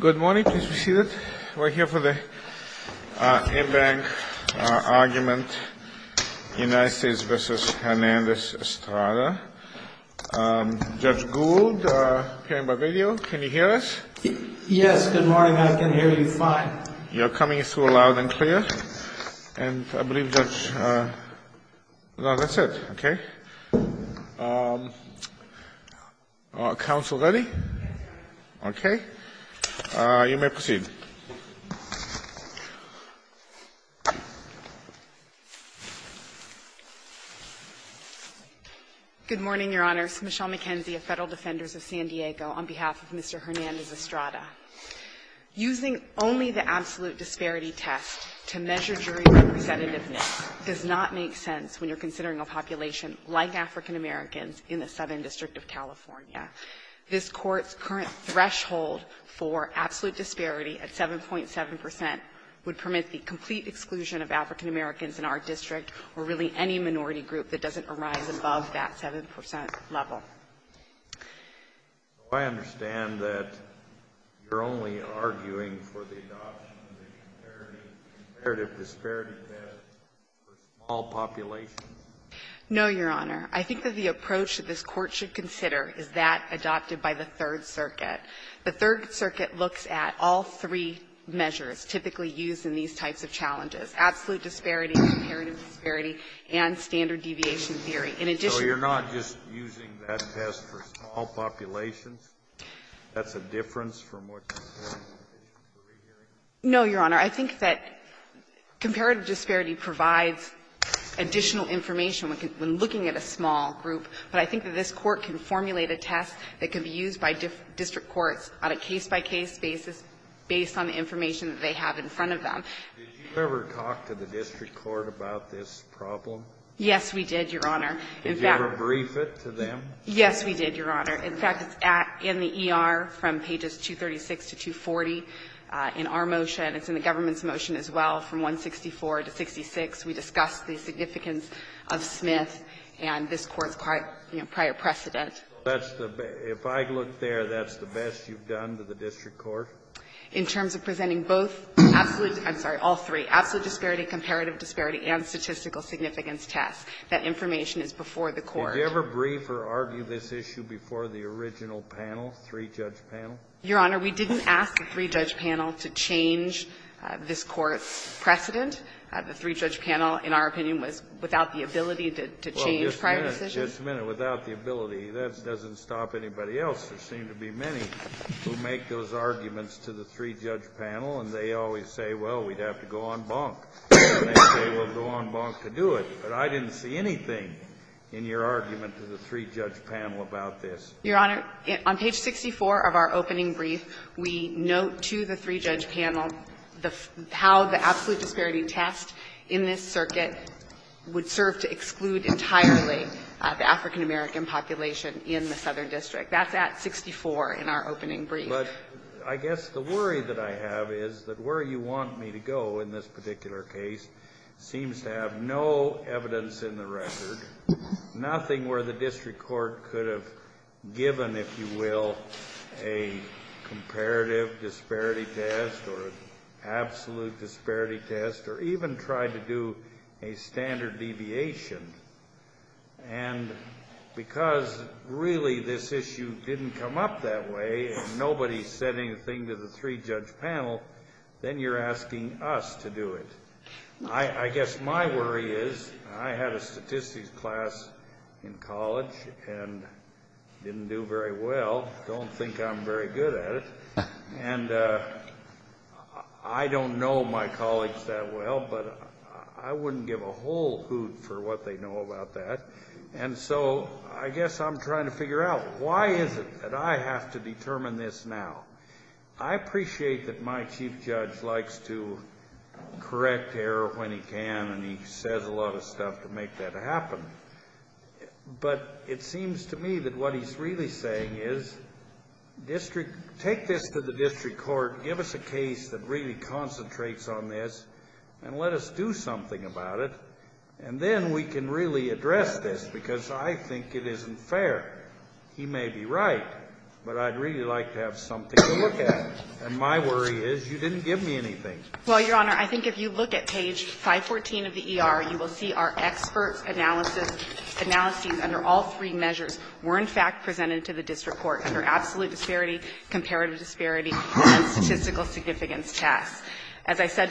Good morning. Please be seated. We're here for the in-bank argument, United States v. Hernandez-Estrada. Judge Gould, appearing by video, can you hear us? Yes, good morning. I can hear you fine. You're coming through loud and clear. And I believe Judge – no, that's it. Okay. Counsel ready? Okay. You may proceed. Good morning, Your Honors. Michelle McKenzie of Federal Defenders of San Diego on behalf of Mr. Hernandez-Estrada. Using only the absolute disparity test to measure jury representativeness does not make sense when you're considering a population like African-Americans in the Southern District of California. This Court's current threshold for absolute disparity at 7.7 percent would permit the complete exclusion of African-Americans in our district or really any minority group that doesn't arise above that 7 percent level. Do I understand that you're only arguing for the adoption of the comparative disparity test for small populations? No, Your Honor. I think that the approach that this Court should consider is that adopted by the Third Circuit. The Third Circuit looks at all three measures typically used in these types of challenges, absolute disparity, comparative disparity, and standard deviation theory. In addition to that… So you're not just using that test for small populations? That's a difference from what you're hearing? No, Your Honor. I think that comparative disparity provides additional information when looking at a small group, but I think that this Court can formulate a test that can be used by district courts on a case-by-case basis based on the information that they have in front of them. Did you ever talk to the district court about this problem? Yes, we did, Your Honor. In fact… Did you ever brief it to them? Yes, we did, Your Honor. In fact, it's in the ER from pages 236 to 240 in our motion. It's in the government's motion as well from 164 to 66. We discussed the significance of Smith and this Court's prior precedent. If I look there, that's the best you've done to the district court? In terms of presenting both absolute… I'm sorry, all three, absolute disparity, comparative disparity, and statistical significance test, that information is before the court. Did you ever brief or argue this issue before the original panel, three-judge panel? Your Honor, we didn't ask the three-judge panel to change this Court's precedent. The three-judge panel, in our opinion, was without the ability to change prior decisions. Well, just a minute, just a minute. Without the ability, that doesn't stop anybody else. There seem to be many who make those arguments to the three-judge panel, and they always say, well, we'd have to go on bonk, and they say we'll go on bonk to do it. But I didn't see anything in your argument to the three-judge panel about this. Your Honor, on page 64 of our opening brief, we note to the three-judge panel how the absolute disparity test in this circuit would serve to exclude entirely the African American population in the Southern District. That's at 64 in our opening brief. But I guess the worry that I have is that where you want me to go in this particular case seems to have no evidence in the record, nothing where the district court could have given, if you will, a comparative disparity test or absolute disparity test or even tried to do a standard deviation. And because really this issue didn't come up that way and nobody said anything to the three-judge panel, then you're asking us to do it. I guess my worry is I had a statistics class in college and didn't do very well, don't think I'm very good at it, and I don't know my colleagues that well, but I guess they know about that. And so I guess I'm trying to figure out why is it that I have to determine this now? I appreciate that my chief judge likes to correct error when he can, and he says a lot of stuff to make that happen. But it seems to me that what he's really saying is take this to the district court, give us a case that really concentrates on this, and let us do something about it, and then we can really address this, because I think it isn't fair. He may be right, but I'd really like to have something to look at. And my worry is you didn't give me anything. Well, Your Honor, I think if you look at page 514 of the ER, you will see our expert analysis, analyses under all three measures were in fact presented to the district court under absolute disparity, comparative disparity, and statistical significance tests. As I said,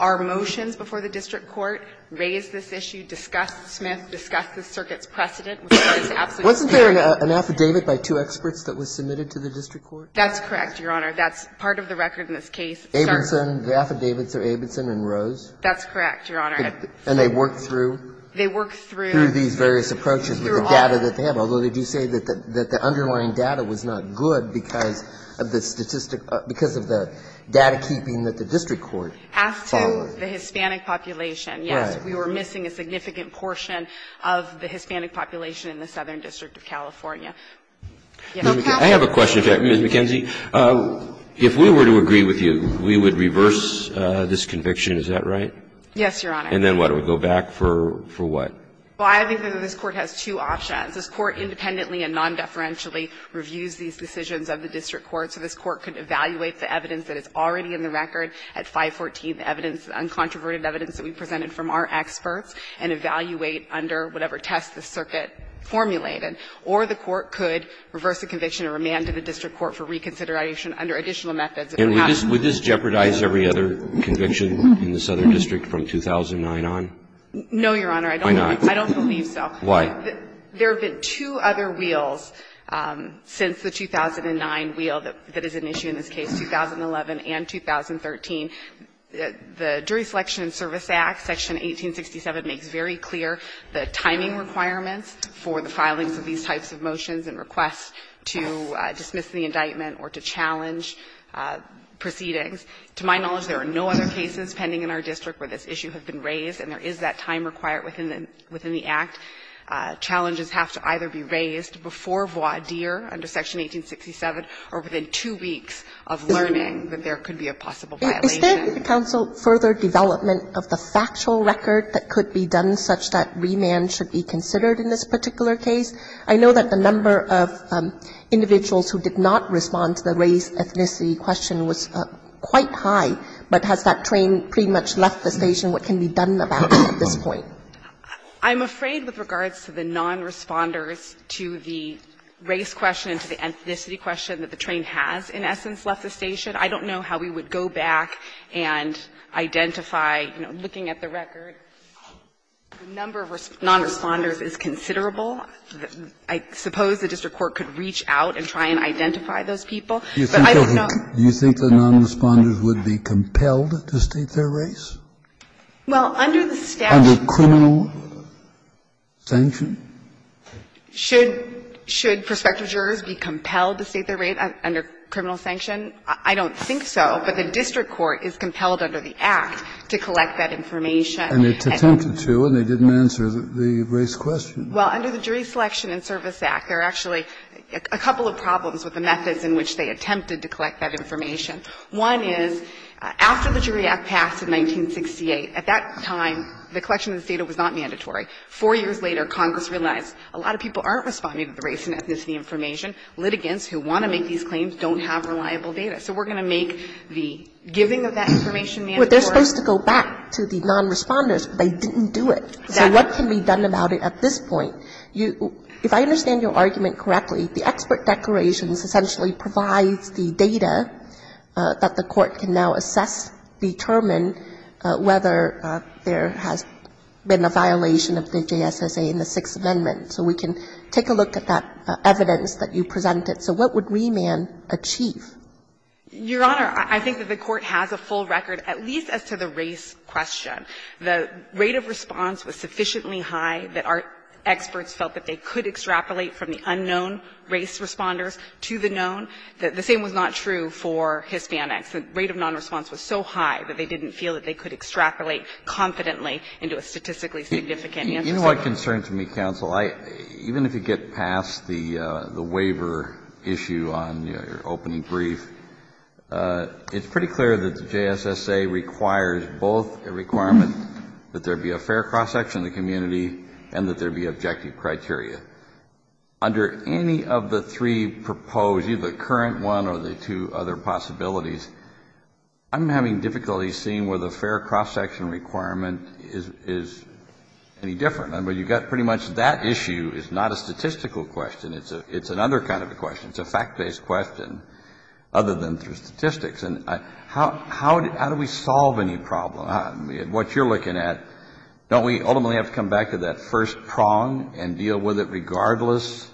our motions before the district court raised this issue, discussed Smith, discussed the circuit's precedent, which is absolutely fair. Wasn't there an affidavit by two experts that was submitted to the district court? That's correct, Your Honor. That's part of the record in this case. Abenson, the affidavits are Abenson and Rose? That's correct, Your Honor. And they worked through? They worked through. Through these various approaches with the data that they have, although they do say that the underlying data was not good because of the statistic of the data keeping that the district court followed. As to the Hispanic population, yes, we were missing a significant portion of the Hispanic population in the Southern District of California. I have a question, Ms. McKenzie. If we were to agree with you, we would reverse this conviction, is that right? Yes, Your Honor. And then what, it would go back for what? Well, I think that this Court has two options. This Court independently and nondeferentially reviews these decisions of the district court, so this Court could evaluate the evidence that is already in the record at 514, the evidence, the uncontroverted evidence that we presented from our experts, and evaluate under whatever test the circuit formulated. Or the Court could reverse the conviction and remand to the district court for reconsideration under additional methods. And would this jeopardize every other conviction in the Southern District from 2009 on? No, Your Honor. Why not? I don't believe so. Why? There have been two other wheels since the 2009 wheel that is an issue in this case, 2011 and 2013. The Jury Selection and Service Act, section 1867, makes very clear the timing requirements for the filings of these types of motions and requests to dismiss the indictment or to challenge proceedings. To my knowledge, there are no other cases pending in our district where this issue has been raised and there is that time required within the act. Challenges have to either be raised before voir dire under section 1867 or within two weeks of learning that there could be a possible violation. Is there in the counsel further development of the factual record that could be done such that remand should be considered in this particular case? I know that the number of individuals who did not respond to the race, ethnicity question was quite high, but has that train pretty much left the station? What can be done about it at this point? I'm afraid with regards to the non-responders to the race question and to the ethnicity question that the train has in essence left the station, I don't know how we would go back and identify, you know, looking at the record, the number of non-responders is considerable. I suppose the district court could reach out and try and identify those people. But I don't know. Do you think the non-responders would be compelled to state their race? Well, under the statute. Under criminal sanction? Should prospective jurors be compelled to state their race under criminal sanction? I don't think so. But the district court is compelled under the act to collect that information. And it's attempted to, and they didn't answer the race question. Well, under the Jury Selection and Service Act, there are actually a couple of problems with the methods in which they attempted to collect that information. One is, after the Jury Act passed in 1968, at that time, the collection of this data was not mandatory. Four years later, Congress realized a lot of people aren't responding to the race and ethnicity information. Litigants who want to make these claims don't have reliable data. So we're going to make the giving of that information mandatory. But they're supposed to go back to the non-responders, but they didn't do it. Exactly. So what can be done about it at this point? If I understand your argument correctly, the expert declarations essentially provide the data that the Court can now assess, determine whether there has been a violation of the JSSA in the Sixth Amendment. So we can take a look at that evidence that you presented. So what would remand achieve? Your Honor, I think that the Court has a full record, at least as to the race question. The rate of response was sufficiently high that our experts felt that they could extrapolate from the unknown race responders to the known. The same was not true for Hispanics. The rate of nonresponse was so high that they didn't feel that they could extrapolate confidently into a statistically significant answer. You know what concerns me, counsel? Even if you get past the waiver issue on your opening brief, it's pretty clear that there would be a fair cross-section of the community and that there would be objective criteria. Under any of the three proposed, either the current one or the two other possibilities, I'm having difficulty seeing whether a fair cross-section requirement is any different. I mean, you've got pretty much that issue is not a statistical question. It's another kind of a question. It's a fact-based question other than through statistics. And how do we solve any problem? What you're looking at, don't we ultimately have to come back to that first prong and deal with it regardless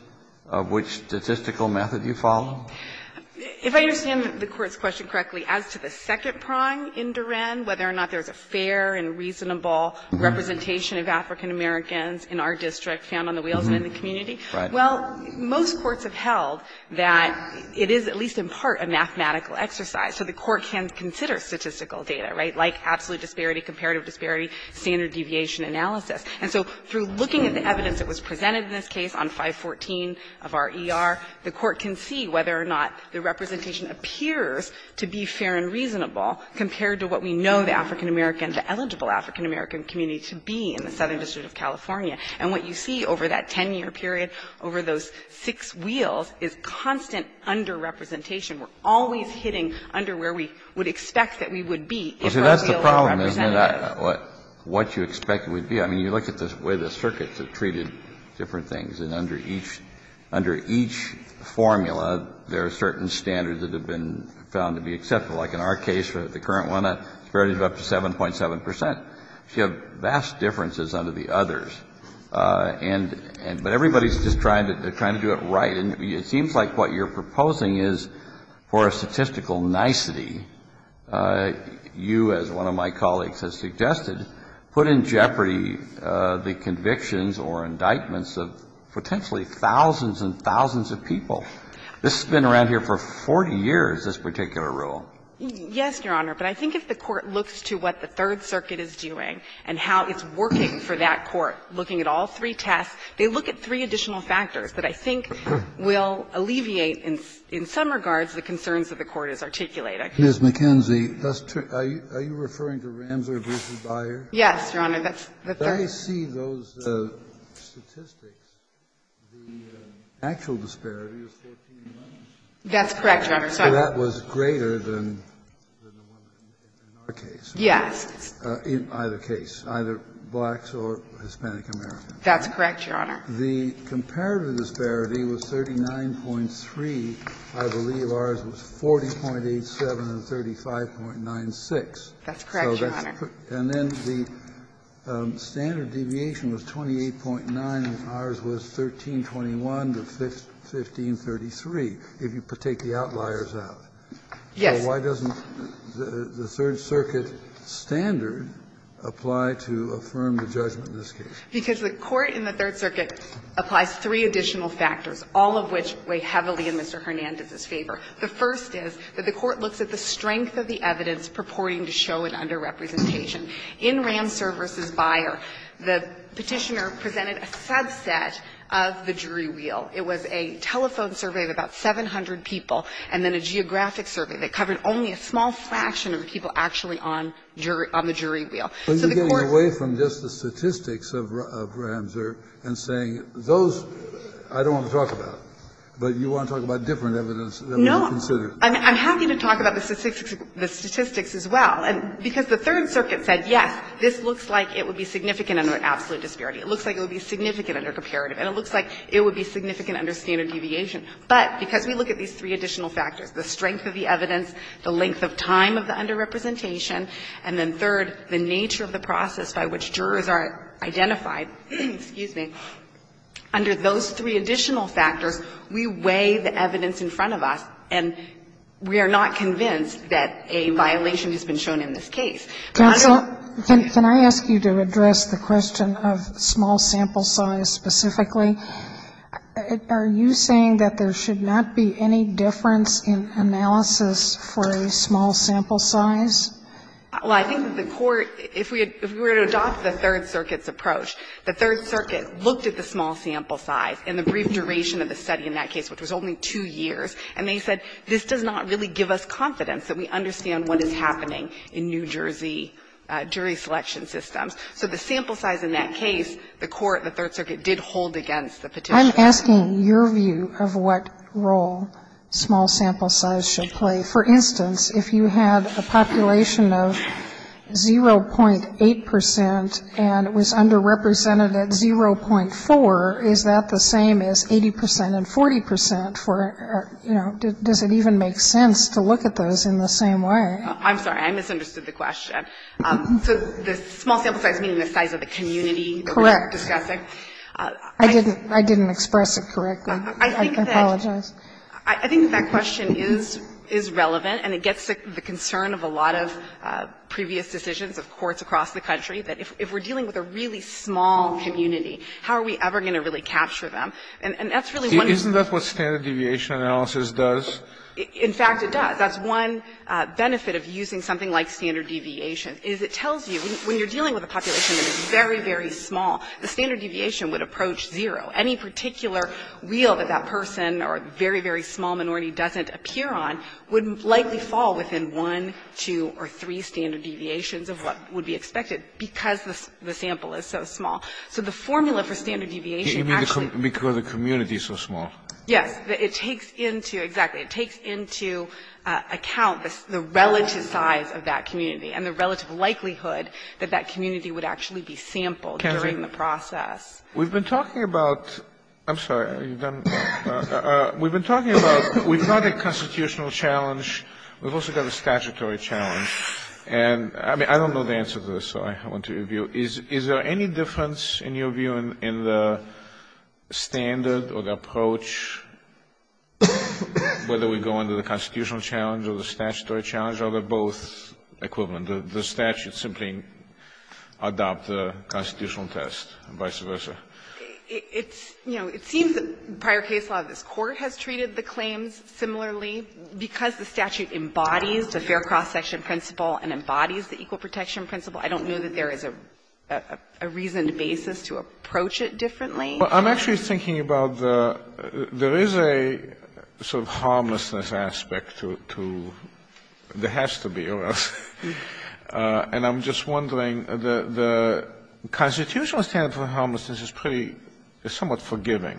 of which statistical method you follow? If I understand the Court's question correctly, as to the second prong in Durand, whether or not there's a fair and reasonable representation of African-Americans in our district found on the wheels and in the community, well, most courts have held that it is at least in part a mathematical exercise. So the Court can consider statistical data, right? Like absolute disparity, comparative disparity, standard deviation analysis. And so through looking at the evidence that was presented in this case on 514 of our ER, the Court can see whether or not the representation appears to be fair and reasonable compared to what we know the African-American, the eligible African-American community to be in the Southern District of California. And what you see over that 10-year period, over those six wheels, is constant underrepresentation. We're always hitting under where we would expect that we would be if our wheel wasn't represented. Kennedy, that's the problem, isn't it? What you expect it would be. I mean, you look at the way the circuits have treated different things. And under each formula, there are certain standards that have been found to be acceptable. Like in our case, the current one, a disparity of up to 7.7 percent. So you have vast differences under the others. But everybody's just trying to do it right. And it seems like what you're proposing is, for a statistical nicety, you, as one of my colleagues has suggested, put in jeopardy the convictions or indictments of potentially thousands and thousands of people. This has been around here for 40 years, this particular rule. Yes, Your Honor. But I think if the Court looks to what the Third Circuit is doing and how it's working for that court, looking at all three tests, they look at three additional factors that I think will alleviate in some regards the concerns that the Court has articulated. Kennedy, are you referring to Ramser v. Byer? Yes, Your Honor. Let me see those statistics. The actual disparity is 14 months. That's correct, Your Honor. So that was greater than the one in our case. Yes. In either case, either blacks or Hispanic Americans. That's correct, Your Honor. The comparative disparity was 39.3. I believe ours was 40.87 and 35.96. That's correct, Your Honor. And then the standard deviation was 28.9, and ours was 1321 to 1533, if you take the outliers out. Yes. So why doesn't the Third Circuit standard apply to affirm the judgment in this case? Because the Court in the Third Circuit applies three additional factors, all of which weigh heavily in Mr. Hernandez's favor. The first is that the Court looks at the strength of the evidence purporting to show an underrepresentation. In Ramser v. Byer, the Petitioner presented a subset of the jury wheel. It was a telephone survey of about 700 people and then a geographic survey that covered only a small fraction of the people actually on the jury wheel. So the Court was going to say, I don't want to talk about it, but you want to talk about different evidence that we would consider. No. I'm happy to talk about the statistics as well, because the Third Circuit said, yes, this looks like it would be significant under absolute disparity. It looks like it would be significant under comparative, and it looks like it would be significant under standard deviation. But because we look at these three additional factors, the strength of the evidence, the length of time of the underrepresentation, and then third, the nature of the process by which jurors are identified, excuse me, under those three additional factors, we weigh the evidence in front of us, and we are not convinced that a violation has been shown in this case. But under the case of the Petitioner, we weigh the evidence in front of us, and we are not convinced that a violation has been shown in this case. Sotomayor, I don't know if you want to comment on that specifically, but are you saying that there should not be any difference in analysis for a small sample size? Well, I think the Court, if we were to adopt the Third Circuit's approach, the Third Circuit looked at the small sample size and the brief duration of the study in that case, which was only two years, and they said, this does not really give us confidence that we understand what is happening in New Jersey jury selection systems. So the sample size in that case, the Court, the Third Circuit, did hold against the Petitioner. I'm asking your view of what role small sample size should play. For instance, if you had a population of 0.8 percent and it was underrepresented at 0.4, is that the same as 80 percent and 40 percent for, you know, does it even make sense to look at those in the same way? I'm sorry. I misunderstood the question. So the small sample size meaning the size of the community that we're discussing? Correct. I didn't express it correctly. I apologize. I think that question is relevant, and it gets the concern of a lot of previous decisions of courts across the country, that if we're dealing with a really small community, how are we ever going to really capture them? And that's really one of the reasons. Isn't that what standard deviation analysis does? In fact, it does. That's one benefit of using something like standard deviation, is it tells you when you're dealing with a population that is very, very small, the standard deviation would approach zero. Any particular wheel that that person or very, very small minority doesn't appear on would likely fall within one, two, or three standard deviations of what would be expected because the sample is so small. So the formula for standard deviation actually goes to the community. So small. Yes. It takes into account the relative size of that community and the relative likelihood that that community would actually be sampled during the process. We've been talking about we've got a constitutional challenge. We've also got a statutory challenge. And I don't know the answer to this, so I want to review. Is there any difference in your view in the standard or the approach, whether we go into the constitutional challenge or the statutory challenge, or are they both equivalent, that the statute simply adopts a constitutional test and vice versa? It's, you know, it seems that prior case law of this Court has treated the claims similarly because the statute embodies the fair cross-section principle and embodies the equal protection principle. I don't know that there is a reasoned basis to approach it differently. Well, I'm actually thinking about the ‑‑ there is a sort of harmlessness aspect to ‑‑ there has to be or else. And I'm just wondering, the constitutional standard for harmlessness is pretty ‑‑ is somewhat forgiving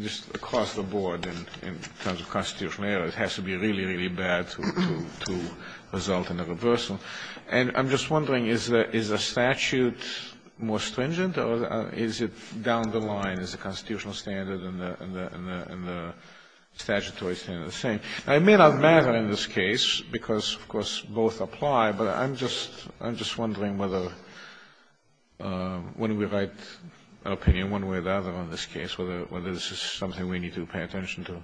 just across the board in terms of constitutional error, it has to be really, really bad to result in a reversal. And I'm just wondering, is the statute more stringent, or is it down the line? Is the constitutional standard and the statutory standard the same? Now, it may not matter in this case, because, of course, both apply, but I'm just wondering whether, when we write an opinion one way or the other on this case, whether this is something we need to pay attention to.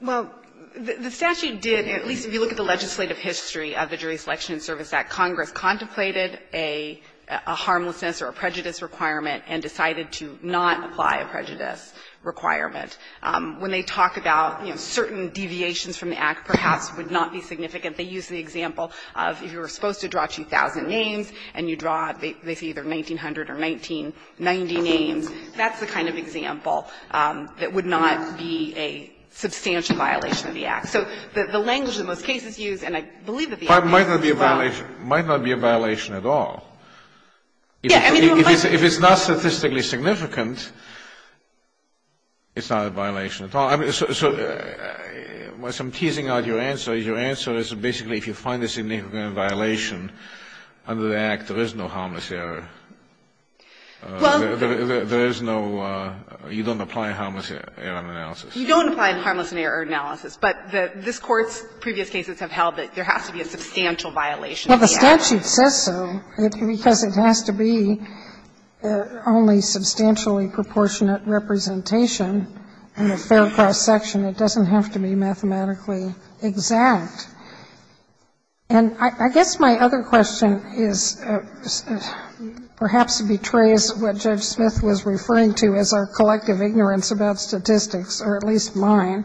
Well, the statute did, at least if you look at the legislative history of the Jury's Selection and Service Act, Congress contemplated a harmlessness or a prejudice requirement and decided to not apply a prejudice requirement. When they talk about, you know, certain deviations from the Act perhaps would not be significant, they use the example of if you were supposed to draw 2,000 names and you draw, they say either 1,900 or 1,990 names, that's the kind of example that would not be a substantial violation of the Act. So the language in most cases used, and I believe that the Act is as well. But it might not be a violation at all. Yeah, I mean, there might be a violation. If it's not statistically significant, it's not a violation at all. So I'm teasing out your answer. Your answer is basically if you find a significant violation under the Act, there is no harmless error. There is no, you don't apply harmless error analysis. You don't apply harmless error analysis. But this Court's previous cases have held that there has to be a substantial violation of the Act. Well, the statute says so, because it has to be only substantially proportionate representation in a fair cross-section. It doesn't have to be mathematically exact. And I guess my other question is, perhaps betrays what Judge Smith was referring to as our collective ignorance about statistics, or at least mine,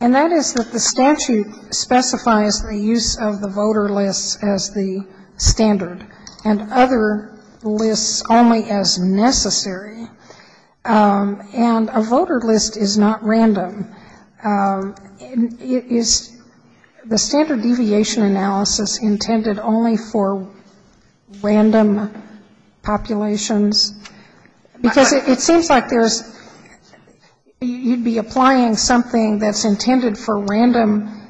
and that is that the statute specifies the use of the voter lists as the standard and other lists only as necessary, and a voter list is not random. Is the standard deviation analysis intended only for random populations? Because it seems like there's you'd be applying something that's intended for random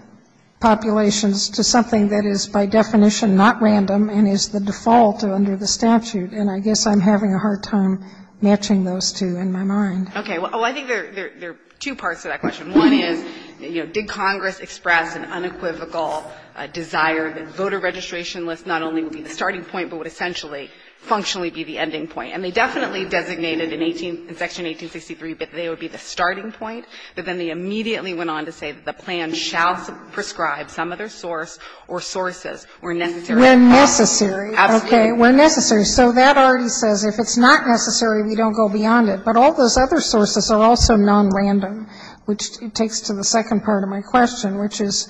populations to something that is by definition not random and is the default under the statute, and I guess I'm having a hard time matching those two in my mind. Okay. Well, I think there are two parts to that question. One is, you know, did Congress express an unequivocal desire that voter registration lists not only would be the starting point, but would essentially functionally be the ending point? And they definitely designated in 18 and section 1863 that they would be the starting point, but then they immediately went on to say that the plan shall prescribe some other source or sources where necessary. We're necessary. Okay. We're necessary. So that already says if it's not necessary, we don't go beyond it. But all those other sources are also nonrandom, which takes to the second part of my question, which is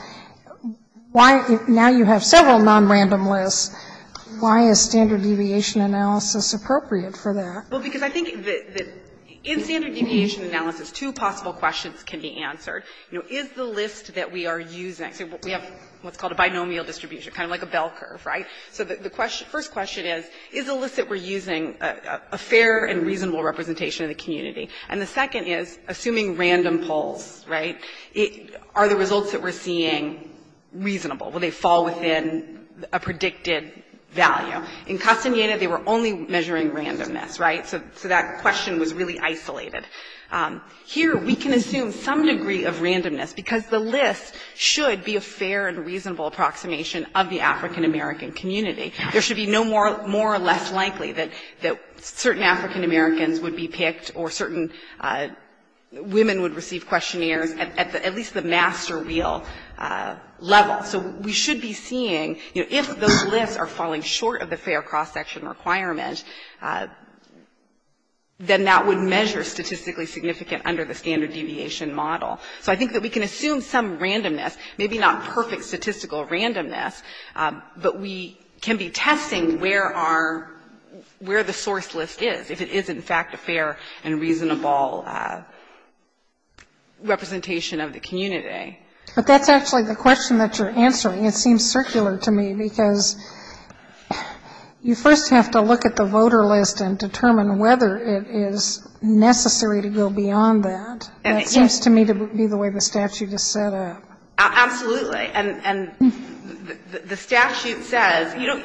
why, now you have several nonrandom lists, why is standard deviation analysis appropriate for that? Well, because I think that in standard deviation analysis, two possible questions can be answered. You know, is the list that we are using, we have what's called a binomial distribution, kind of like a bell curve, right? So the first question is, is the list that we're using a fair and reasonable representation of the community? And the second is, assuming random polls, right, are the results that we're seeing reasonable? Will they fall within a predicted value? In Castaneda, they were only measuring randomness, right? So that question was really isolated. Here, we can assume some degree of randomness, because the list should be a fair and reasonable approximation of the African-American community. There should be no more or less likely that certain African-Americans would be picked or certain women would receive questionnaires at least the master wheel level. So we should be seeing, you know, if those lists are falling short of the fair cross-section requirement, then that would measure statistically significant under the standard deviation model. So I think that we can assume some randomness, maybe not perfect statistical randomness, but we can be testing where our — where the source list is, if it is, in fact, a fair and reasonable representation of the community. But that's actually the question that you're answering. It seems circular to me, because you first have to look at the voter list and determine whether it is necessary to go beyond that. And it seems to me to be the way the statute is set up. Absolutely. And the statute says, you know,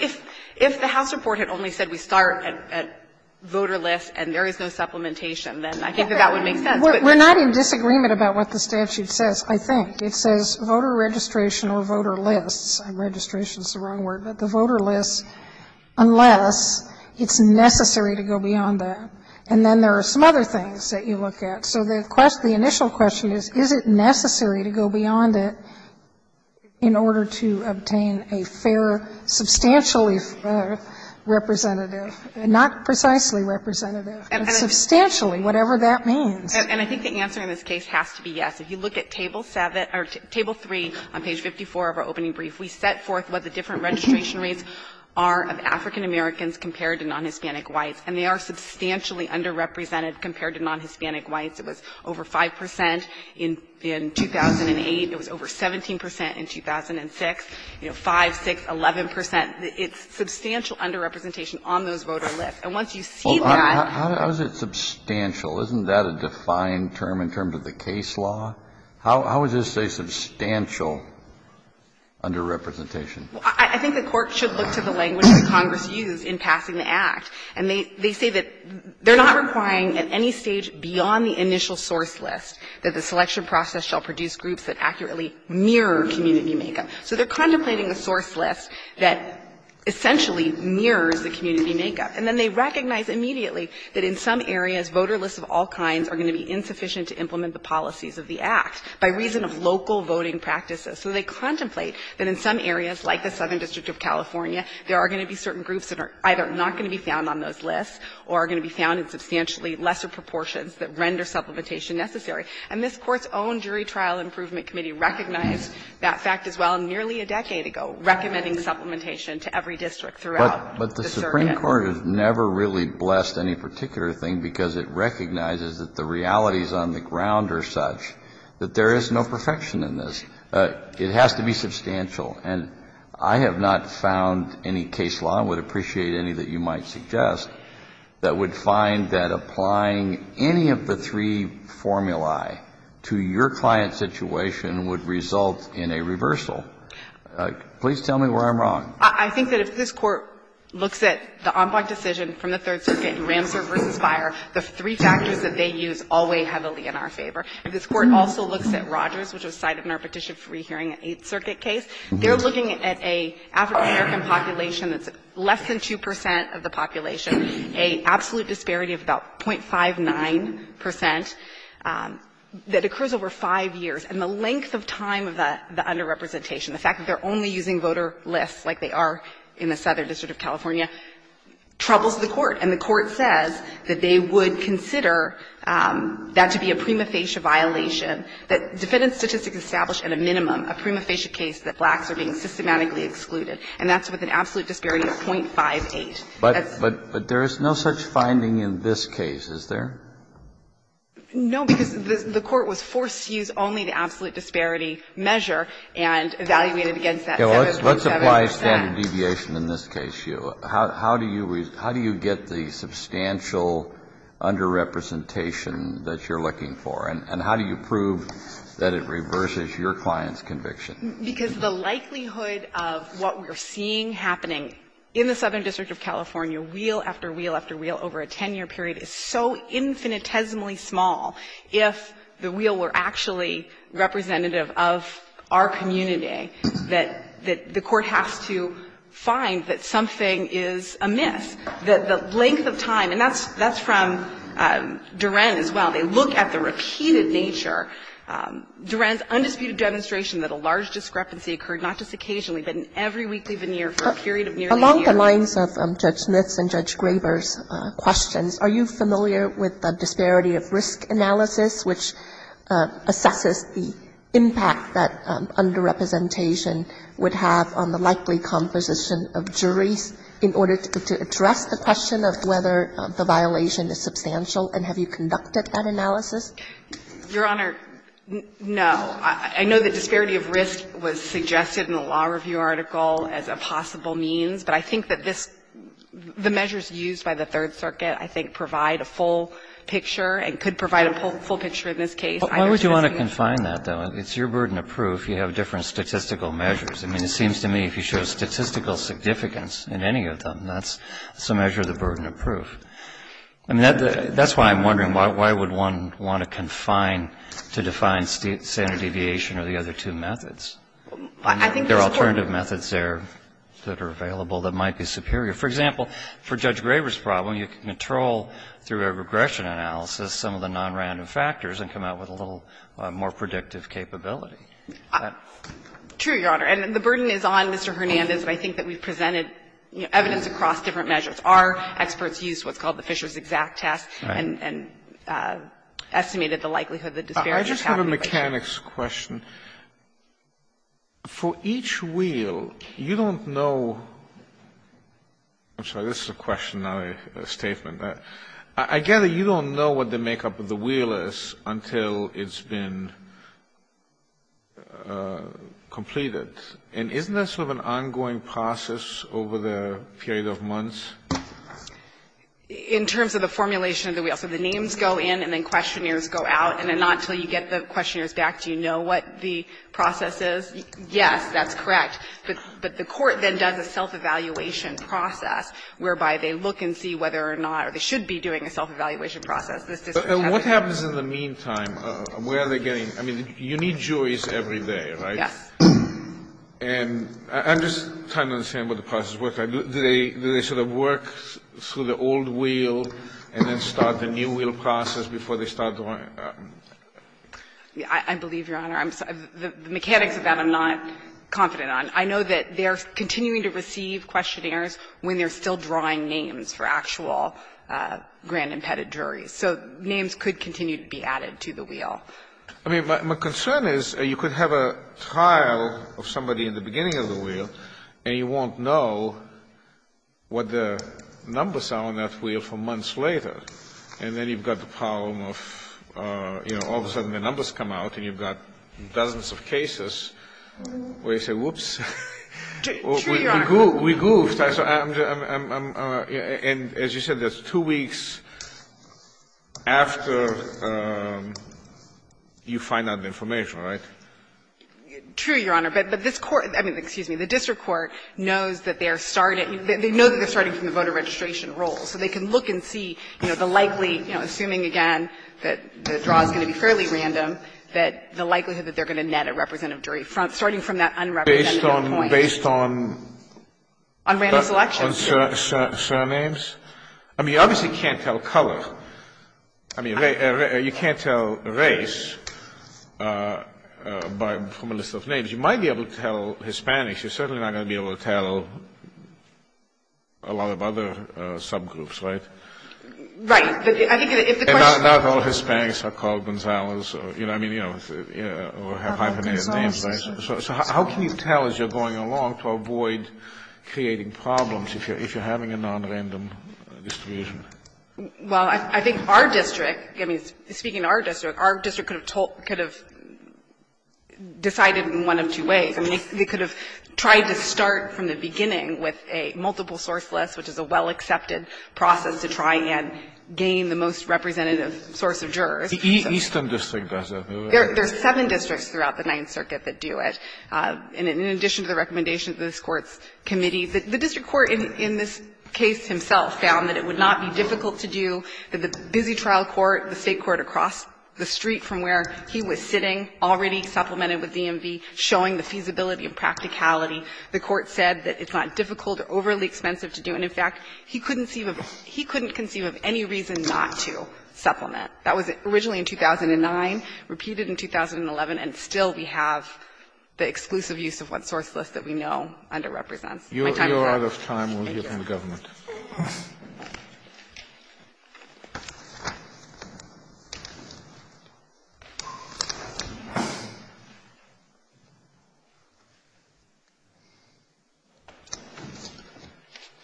if the House report had only said we start at voter lists and there is no supplementation, then I think that that would make sense. We're not in disagreement about what the statute says, I think. It says voter registration or voter lists. Registration is the wrong word. But the voter lists, unless it's necessary to go beyond that. And then there are some other things that you look at. So the question, the initial question is, is it necessary to go beyond it in order to obtain a fair, substantially representative, not precisely representative, but substantially, whatever that means. And I think the answer in this case has to be yes. If you look at Table 7 — or Table 3 on page 54 of our opening brief, we set forth what the different registration rates are of African-Americans compared to non-Hispanic whites. It was over 5 percent in 2008. It was over 17 percent in 2006, you know, 5, 6, 11 percent. It's substantial underrepresentation on those voter lists. And once you see that — Kennedy, how is it substantial? Isn't that a defined term in terms of the case law? How is this a substantial underrepresentation? I think the Court should look to the language that Congress used in passing the Act. And they say that they're not requiring at any stage beyond the initial source list that the selection process shall produce groups that accurately mirror community makeup. So they're contemplating a source list that essentially mirrors the community makeup. And then they recognize immediately that in some areas, voter lists of all kinds are going to be insufficient to implement the policies of the Act by reason of local voting practices. So they contemplate that in some areas, like the Southern District of California, there are going to be certain groups that are either not going to be found on those lists or are going to be found in substantially lesser proportions that render supplementation necessary. And this Court's own Jury Trial Improvement Committee recognized that fact, as well, nearly a decade ago, recommending supplementation to every district throughout the surrogate. Kennedy, but the Supreme Court has never really blessed any particular thing because it recognizes that the realities on the ground are such that there is no perfection in this. It has to be substantial. And I have not found any case law, and would appreciate any that you might suggest, that would find that applying any of the three formulae to your client's situation would result in a reversal. Please tell me where I'm wrong. I think that if this Court looks at the En Blanc decision from the Third Circuit, Ramser v. Fyre, the three factors that they use all weigh heavily in our favor. If this Court also looks at Rogers, which was cited in our petition for rehearing an Eighth Circuit case. They're looking at an African-American population that's less than 2 percent of the population, an absolute disparity of about 0.59 percent that occurs over 5 years. And the length of time of the underrepresentation, the fact that they're only using voter lists like they are in the Southern District of California, troubles the Court. And the Court says that they would consider that to be a prima facie violation that defendant statistics establish at a minimum a prima facie case that blacks are being systematically excluded. And that's with an absolute disparity of 0.58. But there is no such finding in this case, is there? No, because the Court was forced to use only the absolute disparity measure and evaluated against that 7.7 percent. Let's apply standard deviation in this case, Hugh. How do you get the substantial underrepresentation that you're looking for? And how do you prove that it reverses your client's conviction? Because the likelihood of what we're seeing happening in the Southern District of California, wheel after wheel after wheel over a 10-year period, is so infinitesimally small if the wheel were actually representative of our community, that the Court has to find that something is amiss, that the length of time. And that's from Duren as well. They look at the repeated nature. Duren's undisputed demonstration that a large discrepancy occurred not just occasionally, but in every weekly veneer for a period of nearly a year. Along the lines of Judge Smith's and Judge Graber's questions, are you familiar with the disparity of risk analysis, which assesses the impact that underrepresentation would have on the likely composition of juries in order to address the question of whether the violation is substantial, and have you conducted that analysis? Your Honor, no. I know that disparity of risk was suggested in the law review article as a possible means, but I think that this the measures used by the Third Circuit, I think, provide a full picture and could provide a full picture in this case. Why would you want to confine that, though? It's your burden of proof. You have different statistical measures. I mean, it seems to me if you show statistical significance in any of them, that's a measure of the burden of proof. I mean, that's why I'm wondering, why would one want to confine to define standard deviation or the other two methods? I think there are alternative methods there that are available that might be superior. For example, for Judge Graber's problem, you can control through a regression analysis some of the nonrandom factors and come out with a little more predictive capability. True, Your Honor. And the burden is on Mr. Hernandez, and I think that we've presented evidence across different measures. Our experts used what's called the Fisher's exact test and estimated the likelihood of the disparities. I just have a mechanics question. For each wheel, you don't know – I'm sorry, this is a question, not a statement. I gather you don't know what the makeup of the wheel is until it's been completed. And isn't that sort of an ongoing process over the period of months? In terms of the formulation of the wheel, so the names go in and then questionnaires go out, and then not until you get the questionnaires back do you know what the process is? Yes, that's correct. But the court then does a self-evaluation process whereby they look and see whether or not they should be doing a self-evaluation process. This district hasn't. And what happens in the meantime? Where are they getting – I mean, you need juries every day, right? Yes. And I'm just trying to understand what the process looks like. Do they sort of work through the old wheel and then start the new wheel process before they start the one? I believe, Your Honor, I'm – the mechanics of that I'm not confident on. I know that they're continuing to receive questionnaires when they're still drawing names for actual grand impedit juries. So names could continue to be added to the wheel. I mean, my concern is you could have a trial of somebody in the beginning of the wheel, and you won't know what the numbers are on that wheel for months later. And then you've got the problem of, you know, all of a sudden the numbers come out, and you've got dozens of cases where you say, whoops, we goofed. Three, Your Honor. And as you said, that's two weeks after you find out the information, right? True, Your Honor. But this Court – I mean, excuse me. The district court knows that they are starting – they know that they're starting from the voter registration roll. So they can look and see, you know, the likely – you know, assuming, again, that the draw is going to be fairly random, that the likelihood that they're going to net a representative jury starting from that unrepresentative point. Based on – based on? On random selection. On surnames? I mean, you obviously can't tell color. I mean, you can't tell race by – from a list of names. You might be able to tell Hispanics. You're certainly not going to be able to tell a lot of other subgroups, right? Right. But I think if the question – And not all Hispanics are called Gonzales, you know what I mean? You know, or have hyphenated names, right? So how can you tell as you're going along to avoid creating problems if you're having a nonrandom distribution? Well, I think our district – I mean, speaking of our district, our district could have told – could have decided in one of two ways. I mean, they could have tried to start from the beginning with a multiple-source list, which is a well-accepted process to try and gain the most representative source of jurors. The eastern district does that. There's seven districts throughout the Ninth Circuit that do it. And in addition to the recommendations of this Court's committee, the district court in this case himself found that it would not be difficult to do, that the busy trial court, the State court across the street from where he was sitting, already supplemented with DMV, showing the feasibility and practicality, the Court said that it's not difficult or overly expensive to do. And, in fact, he couldn't conceive of any reason not to supplement. That was originally in 2009, repeated in 2011, and still we have the exclusive use of what source list that we know underrepresents. My time is up. You're out of time. We'll hear from the government.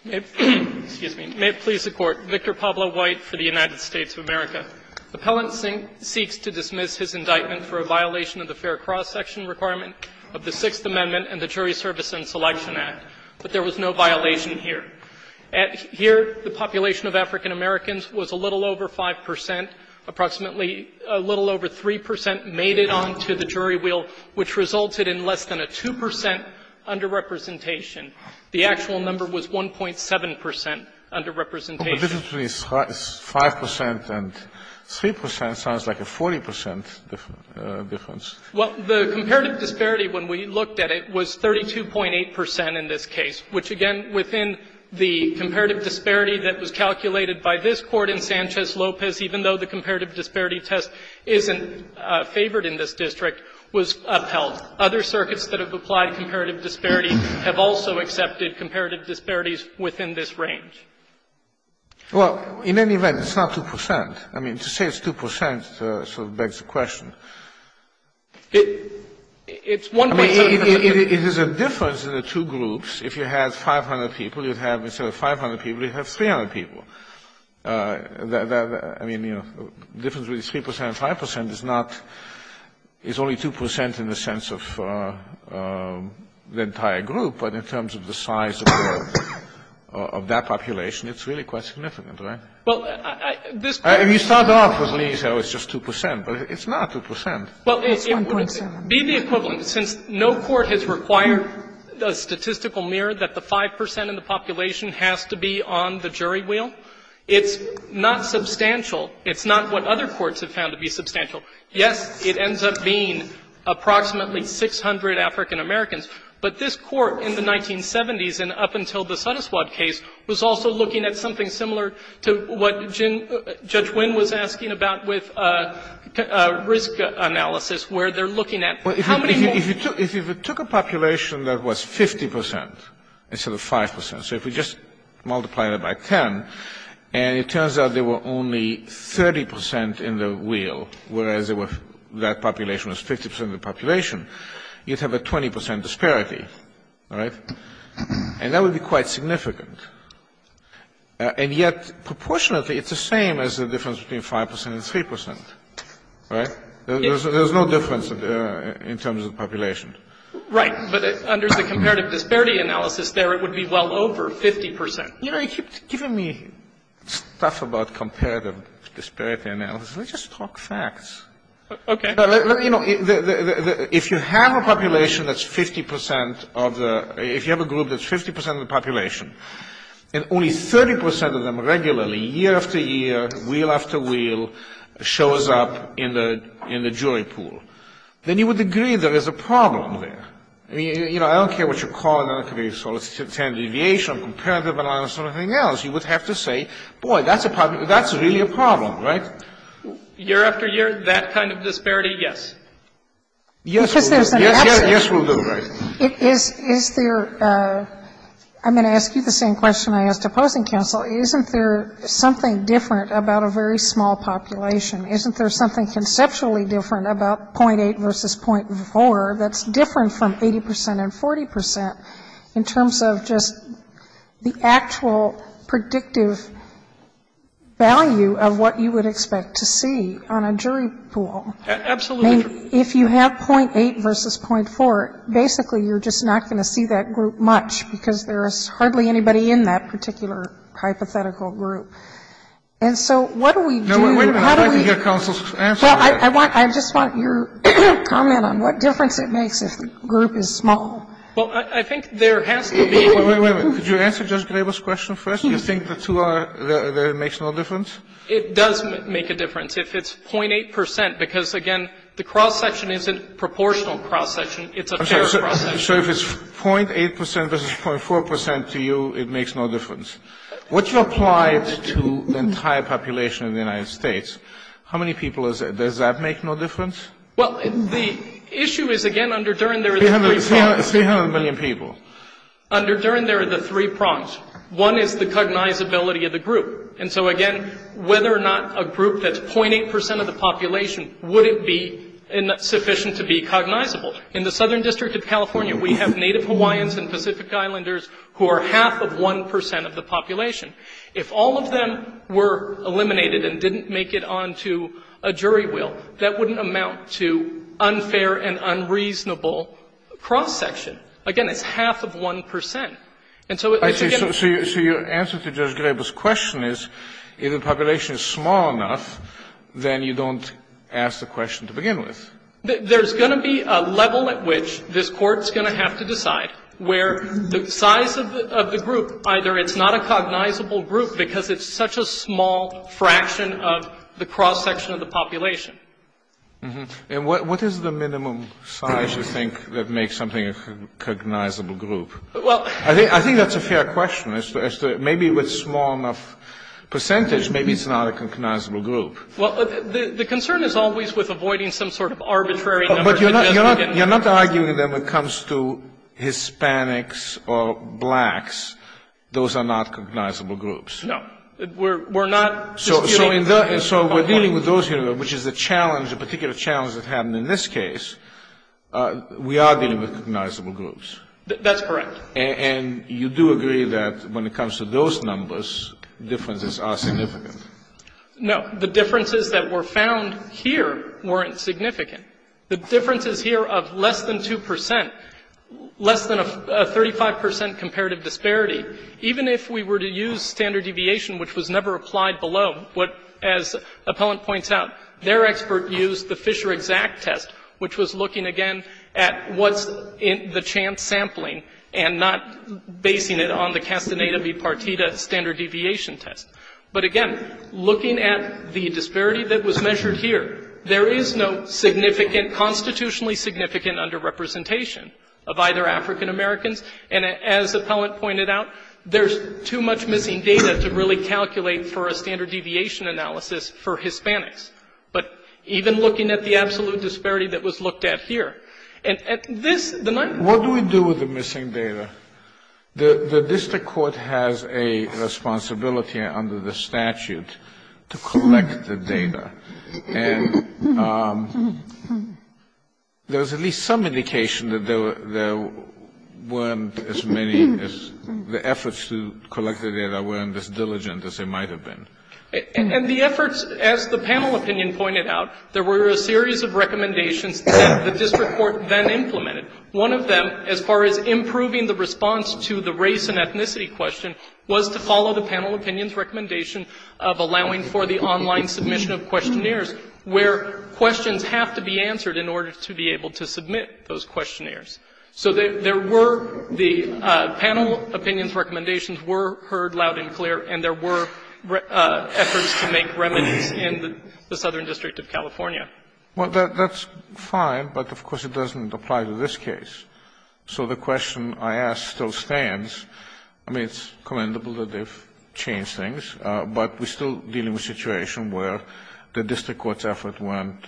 May it please the Court. Victor Pablo White for the United States of America. Appellant seeks to dismiss his indictment for a violation of the fair cross-section requirement of the Sixth Amendment and the Jury Service and Selection Act, but there was no violation here. Here, the population of African-Americans was a little over 5 percent, approximately a little over 3 percent made it onto the jury wheel, which resulted in less than a 2 percent underrepresentation. The actual number was 1.7 percent underrepresentation. Alito, 5 percent and 3 percent sounds like a 40 percent difference. Well, the comparative disparity, when we looked at it, was 32.8 percent in this case, which, again, within the comparative disparity that was calculated by this Court in Sanchez-Lopez, even though the comparative disparity test isn't favored in this district, was upheld. Other circuits that have applied comparative disparity have also accepted comparative disparities within this range. Well, in any event, it's not 2 percent. I mean, to say it's 2 percent sort of begs the question. It's one way of saying it. I mean, it is a difference in the two groups. If you had 500 people, you'd have, instead of 500 people, you'd have 300 people. I mean, you know, the difference between 3 percent and 5 percent is not only 2 percent in the sense of the entire group, but in terms of the size of that population. It's really quite significant, right? Well, this Court If you start off with Lee's, oh, it's just 2 percent. But it's not 2 percent. Well, it would be the equivalent. Since no court has required a statistical mirror that the 5 percent in the population has to be on the jury wheel, it's not substantial. It's not what other courts have found to be substantial. Yes, it ends up being approximately 600 African-Americans, but this Court in the 1970s and up until the Suttaswad case was also looking at something similar to what Judge Wynn was asking about with risk analysis, where they're looking at how many more people. If you took a population that was 50 percent instead of 5 percent, so if we just multiply it by 10, and it turns out there were only 30 percent in the wheel, whereas that population was 50 percent of the population, you'd have a 20 percent disparity, right? And that would be quite significant. And yet, proportionately, it's the same as the difference between 5 percent and 3 percent, right? There's no difference in terms of population. Right. But under the comparative disparity analysis there, it would be well over 50 percent. You know, you keep giving me stuff about comparative disparity analysis. Let's just talk facts. Okay. You know, if you have a population that's 50 percent of the — if you have a group that's 50 percent of the population, and only 30 percent of them regularly, year after year, wheel after wheel, shows up in the jury pool, then you would agree there is a problem there. I mean, you know, I don't care what you call it. It could be standard deviation or comparative analysis or anything else. You would have to say, boy, that's a problem. That's really a problem, right? Year after year, that kind of disparity, yes. Yes, we'll do. Yes, yes, yes, we'll do, right. Is there — I'm going to ask you the same question I asked opposing counsel. Isn't there something different about a very small population? Isn't there something conceptually different about .8 versus .4 that's different from 80 percent and 40 percent in terms of just the actual predictive value of what you would expect to see on a jury pool? Absolutely. I mean, if you have .8 versus .4, basically you're just not going to see that group much, because there is hardly anybody in that particular hypothetical group. And so what do we do? No, wait a minute. I'd like to hear counsel's answer to that. Well, I want — I just want your comment on what difference it makes if the group is small. Well, I think there has to be — Wait, wait, wait. Could you answer Judge Grable's question first? Do you think the two are — that it makes no difference? It does make a difference if it's .8 percent, because, again, the cross-section isn't proportional cross-section. It's a fair cross-section. So if it's .8 percent versus .4 percent to you, it makes no difference. What you apply to the entire population in the United States, how many people does that make no difference? Well, the issue is, again, under Duren, there are the three — Three hundred million people. Under Duren, there are the three prongs. One is the cognizability of the group. And so, again, whether or not a group that's .8 percent of the population, would it be sufficient to be cognizable? In the Southern District of California, we have Native Hawaiians and Pacific Islanders who are half of 1 percent of the population. If all of them were eliminated and didn't make it on to a jury will, that wouldn't amount to unfair and unreasonable cross-section. Again, it's half of 1 percent. And so it's again — So your answer to Judge Grable's question is, if the population is small enough, then you don't ask the question to begin with. There's going to be a level at which this Court's going to have to decide where the size of the group, either it's not a cognizable group because it's such a small fraction of the cross-section of the population. And what is the minimum size you think that makes something a cognizable group? Well — I think that's a fair question. Maybe with small enough percentage, maybe it's not a cognizable group. Well, the concern is always with avoiding some sort of arbitrary number. But you're not arguing that when it comes to Hispanics or blacks, those are not cognizable groups. No. We're not disputing — So we're dealing with those here, which is a challenge, a particular challenge that happened in this case. We are dealing with cognizable groups. That's correct. And you do agree that when it comes to those numbers, differences are significant? No. The differences that were found here weren't significant. The difference is here of less than 2 percent, less than a 35 percent comparative disparity. Even if we were to use standard deviation, which was never applied below, as Appellant points out, their expert used the Fisher exact test, which was looking again at what's the chance sampling and not basing it on the Castaneda v. Partita standard deviation test. But again, looking at the disparity that was measured here, there is no significant — constitutionally significant underrepresentation of either African Americans. And as Appellant pointed out, there's too much missing data to really calculate for a standard deviation analysis for Hispanics. But even looking at the absolute disparity that was looked at here, and this, the nine — What do we do with the missing data? The district court has a responsibility under the statute to collect the data. And there's at least some indication that there weren't as many — the efforts to collect the data weren't as diligent as they might have been. And the efforts, as the panel opinion pointed out, there were a series of recommendations that the district court then implemented. One of them, as far as improving the response to the race and ethnicity question, was to follow the panel opinion's recommendation of allowing for the online submission of questionnaires, where questions have to be answered in order to be able to submit those questionnaires. So there were — the panel opinion's recommendations were heard loud and clear, and there were efforts to make remedies in the Southern District of California. Well, that's fine, but, of course, it doesn't apply to this case. So the question I ask still stands. I mean, it's commendable that they've changed things, but we're still dealing with a situation where the district court's efforts weren't,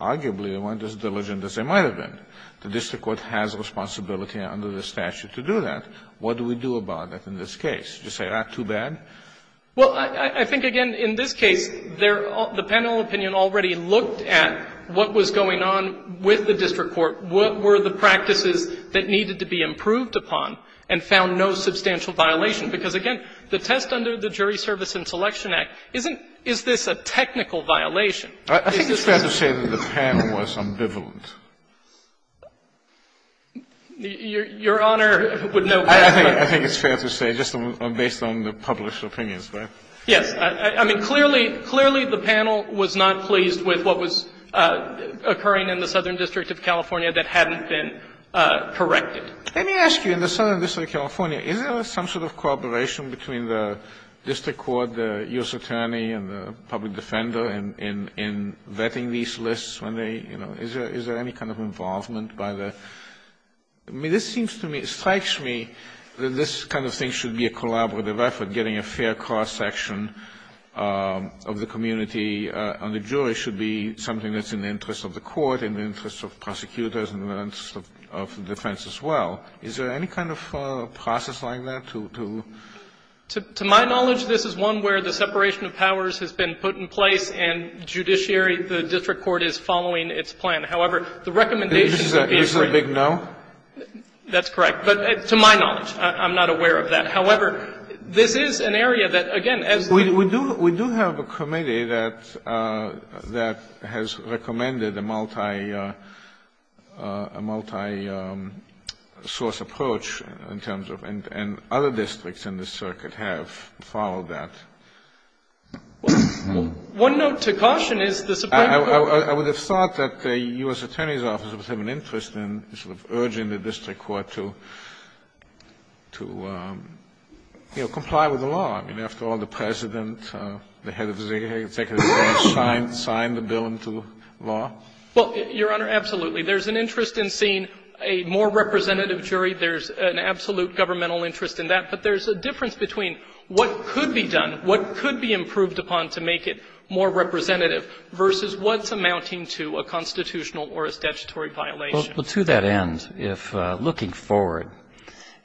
arguably, they weren't as diligent as they might have been. The district court has a responsibility under the statute to do that. What do we do about it in this case? Do you say, ah, too bad? Well, I think, again, in this case, the panel opinion already looked at what was going on with the district court, what were the practices that needed to be improved upon, and found no substantial violation. Because, again, the test under the Jury Service and Selection Act isn't — is this a technical violation? I think it's fair to say that the panel was ambivalent. Your Honor would know better. I think it's fair to say, just based on the published opinions, right? Yes. I mean, clearly, clearly the panel was not pleased with what was occurring in the Southern District of California that hadn't been corrected. Let me ask you, in the Southern District of California, is there some sort of cooperation between the district court, the U.S. attorney, and the public defender in vetting these lists when they, you know, is there any kind of involvement by the — I mean, this seems to me, it strikes me that this kind of thing should be a collaborative effort, getting a fair cross-section of the community, and the jury should be something that's in the interest of the court, in the interest of prosecutors, and in the interest of defense as well. Is there any kind of process like that to — To my knowledge, this is one where the separation of powers has been put in place and judiciary, the district court, is following its plan. However, the recommendation — Is there a big no? That's correct. But to my knowledge, I'm not aware of that. However, this is an area that, again, as the — We do have a committee that has recommended a multi-source approach in terms of — and other districts in this circuit have followed that. One note to caution is the Supreme Court — I'm not urging the district court to, you know, comply with the law. I mean, after all, the President, the head of the executive branch, signed the bill into law. Well, Your Honor, absolutely. There's an interest in seeing a more representative jury. There's an absolute governmental interest in that. But there's a difference between what could be done, what could be improved upon to make it more representative, versus what's amounting to a constitutional or a statutory violation. Well, to that end, if — looking forward,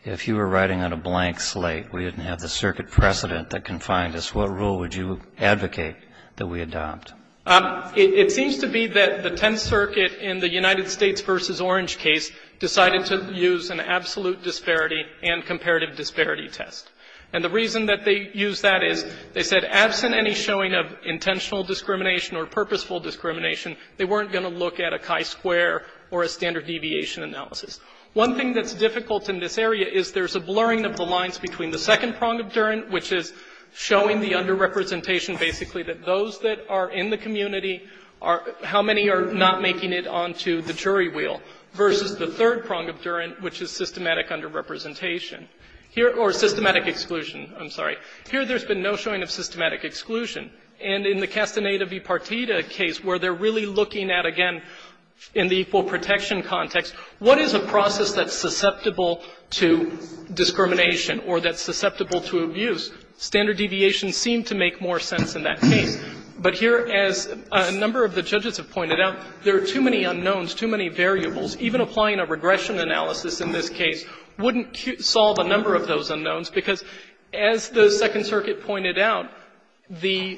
if you were riding on a blank slate, we didn't have the circuit precedent that confined us, what rule would you advocate that we adopt? It seems to be that the Tenth Circuit in the United States v. Orange case decided to use an absolute disparity and comparative disparity test. And the reason that they used that is, they said, absent any showing of intentional discrimination or purposeful discrimination, they weren't going to look at a chi-square or a standard deviation analysis. One thing that's difficult in this area is there's a blurring of the lines between the second prong of Durant, which is showing the underrepresentation, basically, that those that are in the community are — how many are not making it onto the jury wheel, versus the third prong of Durant, which is systematic underrepresentation. Here — or systematic exclusion, I'm sorry. Here there's been no showing of systematic exclusion. And in the Castaneda v. Partita case, where they're really looking at, again, in the full protection context, what is a process that's susceptible to discrimination or that's susceptible to abuse? Standard deviations seem to make more sense in that case. But here, as a number of the judges have pointed out, there are too many unknowns, too many variables. Even applying a regression analysis in this case wouldn't solve a number of those unknowns, because as the Second Circuit pointed out, the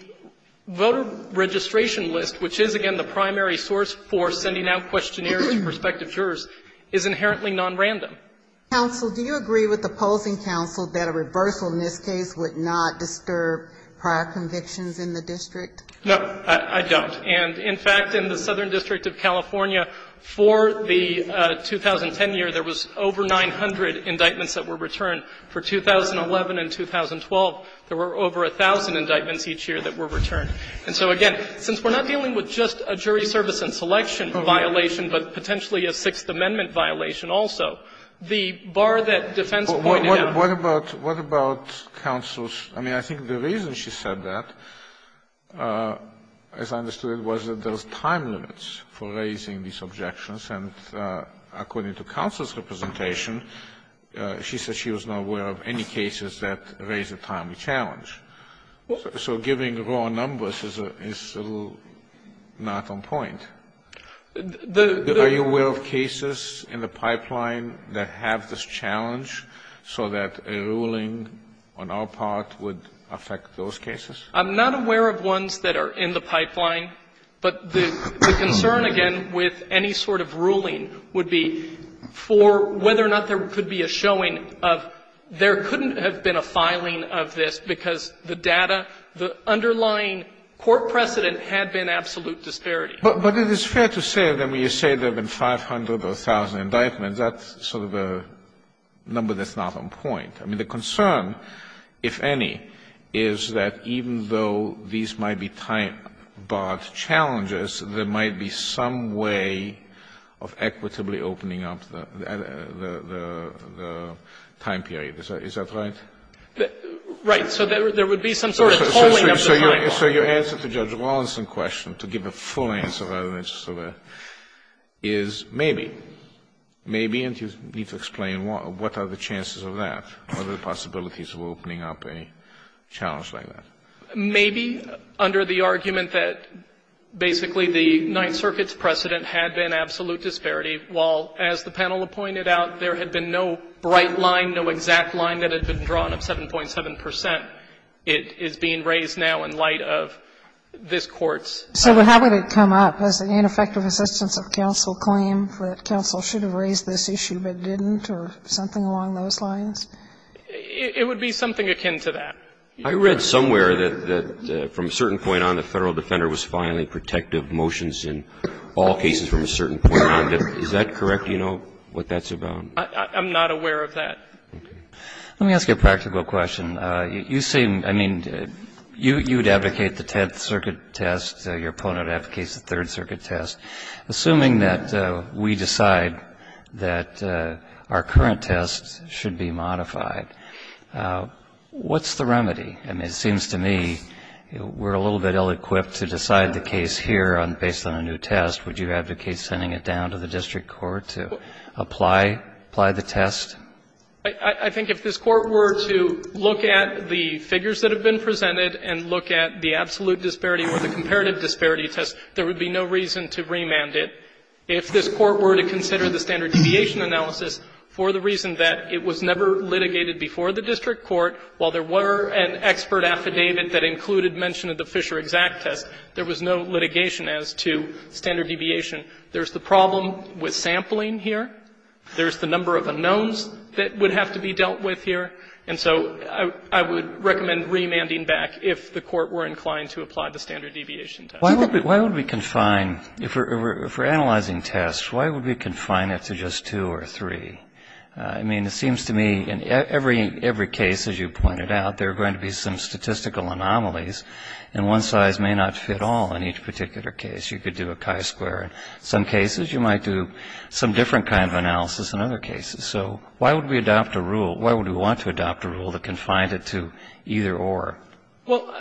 voter registration list, which is, again, the primary source for sending out questionnaires to prospective jurors, is inherently nonrandom. Counsel, do you agree with the polls in counsel that a reversal in this case would not disturb prior convictions in the district? No, I don't. And, in fact, in the Southern District of California, for the 2010 year, there was over 900 indictments that were returned. For 2011 and 2012, there were over 1,000 indictments each year that were returned. And so, again, since we're not dealing with just a jury service and selection violation, but potentially a Sixth Amendment violation also, the bar that defense pointed out. But what about counsel's – I mean, I think the reason she said that, as I understood it, was that there was time limits for raising these objections. And according to counsel's representation, she said she was not aware of any cases that raised a timely challenge. So giving raw numbers is a little not on point. The – the – Are you aware of cases in the pipeline that have this challenge so that a ruling on our part would affect those cases? I'm not aware of ones that are in the pipeline. But the concern, again, with any sort of ruling would be for whether or not there could be a showing of there couldn't have been a filing of this because the data, the underlying court precedent had been absolute disparity. But it is fair to say, I mean, you say there have been 500 or 1,000 indictments. That's sort of a number that's not on point. I mean, the concern, if any, is that even though these might be time-barred challenges, there might be some way of equitably opening up the time period. Is that right? Right. So there would be some sort of tolling of the time bar. So your answer to Judge Rawlinson's question, to give a full answer rather than just sort of a is maybe. Maybe, and you need to explain what are the chances of that, what are the possibilities of opening up a challenge like that. Maybe under the argument that basically the Ninth Circuit's precedent had been absolute disparity, while as the panel pointed out, there had been no bright line, no exact line that had been drawn of 7.7 percent. It is being raised now in light of this Court's. So how would it come up? Does the ineffective assistance of counsel claim that counsel should have raised this issue but didn't or something along those lines? It would be something akin to that. I read somewhere that from a certain point on the Federal defender was filing protective motions in all cases from a certain point on. Is that correct? Do you know what that's about? I'm not aware of that. Let me ask you a practical question. You seem, I mean, you would advocate the Tenth Circuit test. Your opponent advocates the Third Circuit test. I mean, it seems to me we're a little bit ill-equipped to decide the case here on the basis of a new test. Would you advocate sending it down to the district court to apply the test? I think if this Court were to look at the figures that have been presented and look at the absolute disparity or the comparative disparity test, there would be no reason to remand it. If this Court were to consider the standard deviation analysis for the reason that it was never litigated before the district court, while there were an expert affidavit that included mention of the Fisher exact test, there was no litigation as to standard deviation. There's the problem with sampling here. There's the number of unknowns that would have to be dealt with here. And so I would recommend remanding back if the Court were inclined to apply the standard deviation test. Why would we confine, if we're analyzing tests, why would we confine it to just two or three? I mean, it seems to me in every case, as you pointed out, there are going to be some statistical anomalies, and one size may not fit all in each particular case. You could do a chi-square in some cases. You might do some different kind of analysis in other cases. So why would we adopt a rule? Why would we want to adopt a rule that confined it to either or? Well,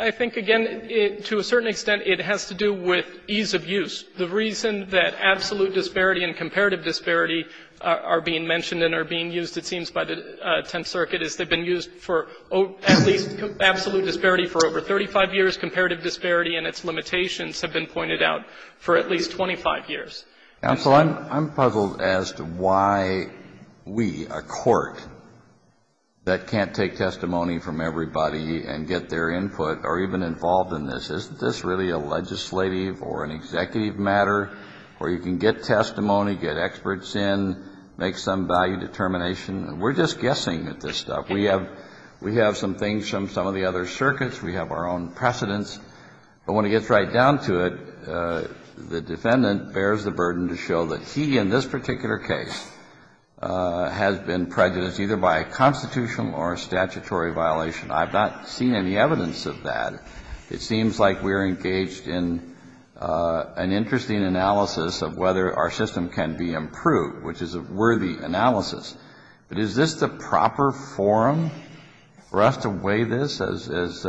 I think, again, to a certain extent, it has to do with ease of use. The reason that absolute disparity and comparative disparity are being mentioned and are being used, it seems, by the Tenth Circuit is they've been used for at least absolute disparity for over 35 years. Comparative disparity and its limitations have been pointed out for at least 25 years. Counsel, I'm puzzled as to why we, a Court, that can't take testimony from everybody and get their input or even involved in this, isn't this really a legislative or an executive matter where you can get testimony, get experts in, make some value determination? We're just guessing at this stuff. We have some things from some of the other circuits. We have our own precedents. But when it gets right down to it, the defendant bears the burden to show that he in this particular case has been prejudiced either by a constitutional or a statutory violation. I've not seen any evidence of that. It seems like we're engaged in an interesting analysis of whether our system can be improved, which is a worthy analysis. But is this the proper forum for us to weigh this, as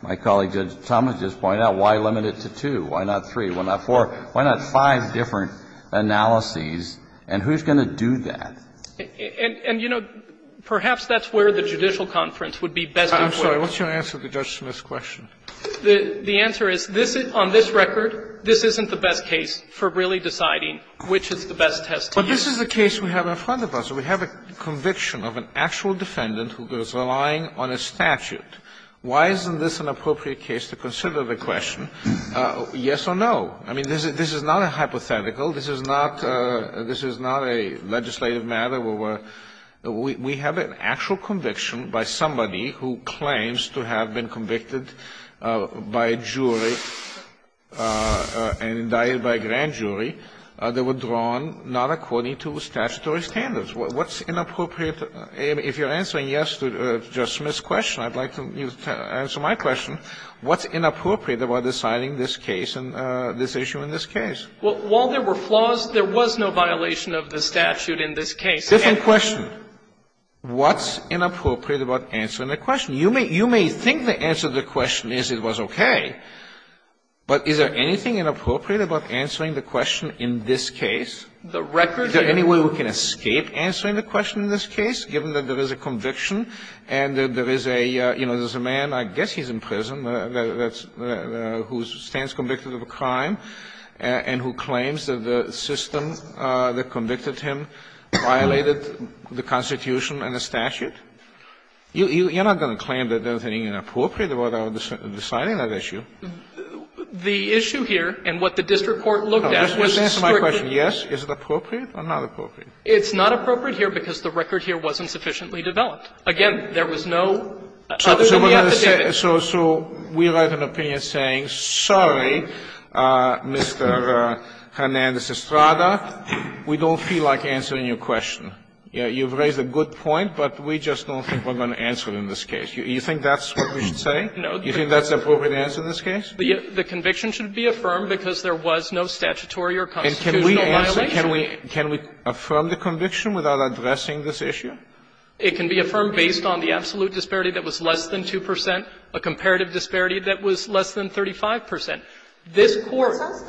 my colleague, Judge Thomas, just pointed out? Why limit it to two? Why not three? Why not four? Why not five different analyses? And who's going to do that? And, you know, perhaps that's where the judicial conference would be best employed. Kennedy, I'm sorry, what's your answer to Judge Smith's question? The answer is, on this record, this isn't the best case for really deciding which is the best test to use. But this is a case we have in front of us. We have a conviction of an actual defendant who is relying on a statute. Why isn't this an appropriate case to consider the question, yes or no? I mean, this is not a hypothetical. This is not a legislative matter where we have an actual conviction by somebody who claims to have been convicted by a jury and indicted by a grand jury that were drawn not according to statutory standards. What's inappropriate? If you're answering, yes, to Judge Smith's question, I'd like you to answer my question. What's inappropriate about deciding this case and this issue in this case? Well, while there were flaws, there was no violation of the statute in this case. It's a different question. What's inappropriate about answering the question? You may think the answer to the question is it was okay, but is there anything inappropriate about answering the question in this case? Is there any way we can escape answering the question in this case, given that there is a conviction and that there is a, you know, there's a man, I guess he's in prison, who stands convicted of a crime and who claims that the system that convicted him violated the Constitution and the statute? You're not going to claim that there's anything inappropriate about our deciding that issue. The issue here and what the district court looked at was strictly the same. Just answer my question, yes? Is it appropriate or not appropriate? It's not appropriate here because the record here wasn't sufficiently developed. Again, there was no other than the affidavit. So we write an opinion saying, sorry, Mr. Hernandez-Estrada, we don't feel like answering your question. You've raised a good point, but we just don't think we're going to answer it in this case. You think that's what we should say? No. You think that's the appropriate answer in this case? The conviction should be affirmed because there was no statutory or constitutional violation. And can we affirm the conviction without addressing this issue? It can be affirmed based on the absolute disparity that was less than 2 percent, a comparative disparity that was less than 35 percent. This Court ----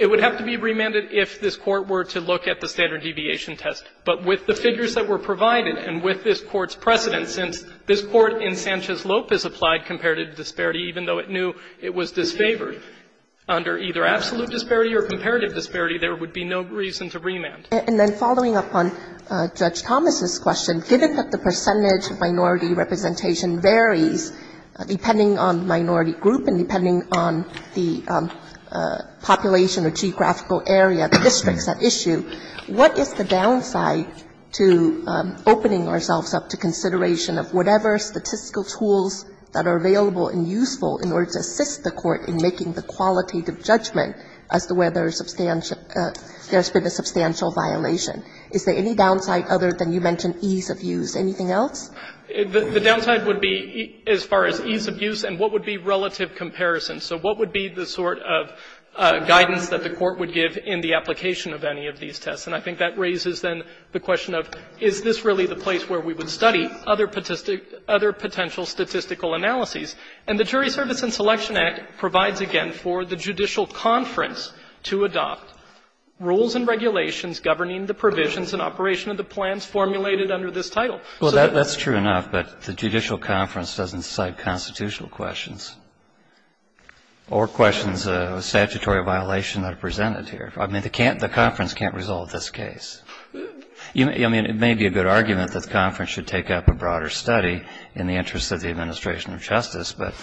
It would have to be remanded if this Court were to look at the standard deviation test. But with the figures that were provided and with this Court's precedent, since this Court in Sanchez-Lopez applied comparative disparity even though it knew it was disfavored, under either absolute disparity or comparative disparity, there would be no reason to remand. And then following up on Judge Thomas' question, given that the percentage minority representation varies depending on minority group and depending on the population or geographical area, the districts at issue, what is the downside to opening ourselves up to consideration of whatever statistical tools that are available and useful in order to assist the Court in making the qualitative judgment as to whether there's substantial ---- there's been a substantial violation? Is there any downside other than you mentioned ease of use? Anything else? The downside would be as far as ease of use and what would be relative comparison. So what would be the sort of guidance that the Court would give in the application of any of these tests? And I think that raises then the question of is this really the place where we would study other potential statistical analyses? And the Jury Service and Selection Act provides again for the judicial conference to adopt rules and regulations governing the provisions and operation of the plans formulated under this title. So that's true enough, but the judicial conference doesn't cite constitutional questions or questions of statutory violation that are presented here. I mean, the conference can't resolve this case. I mean, it may be a good argument that the conference should take up a broader study in the interest of the administration of justice, but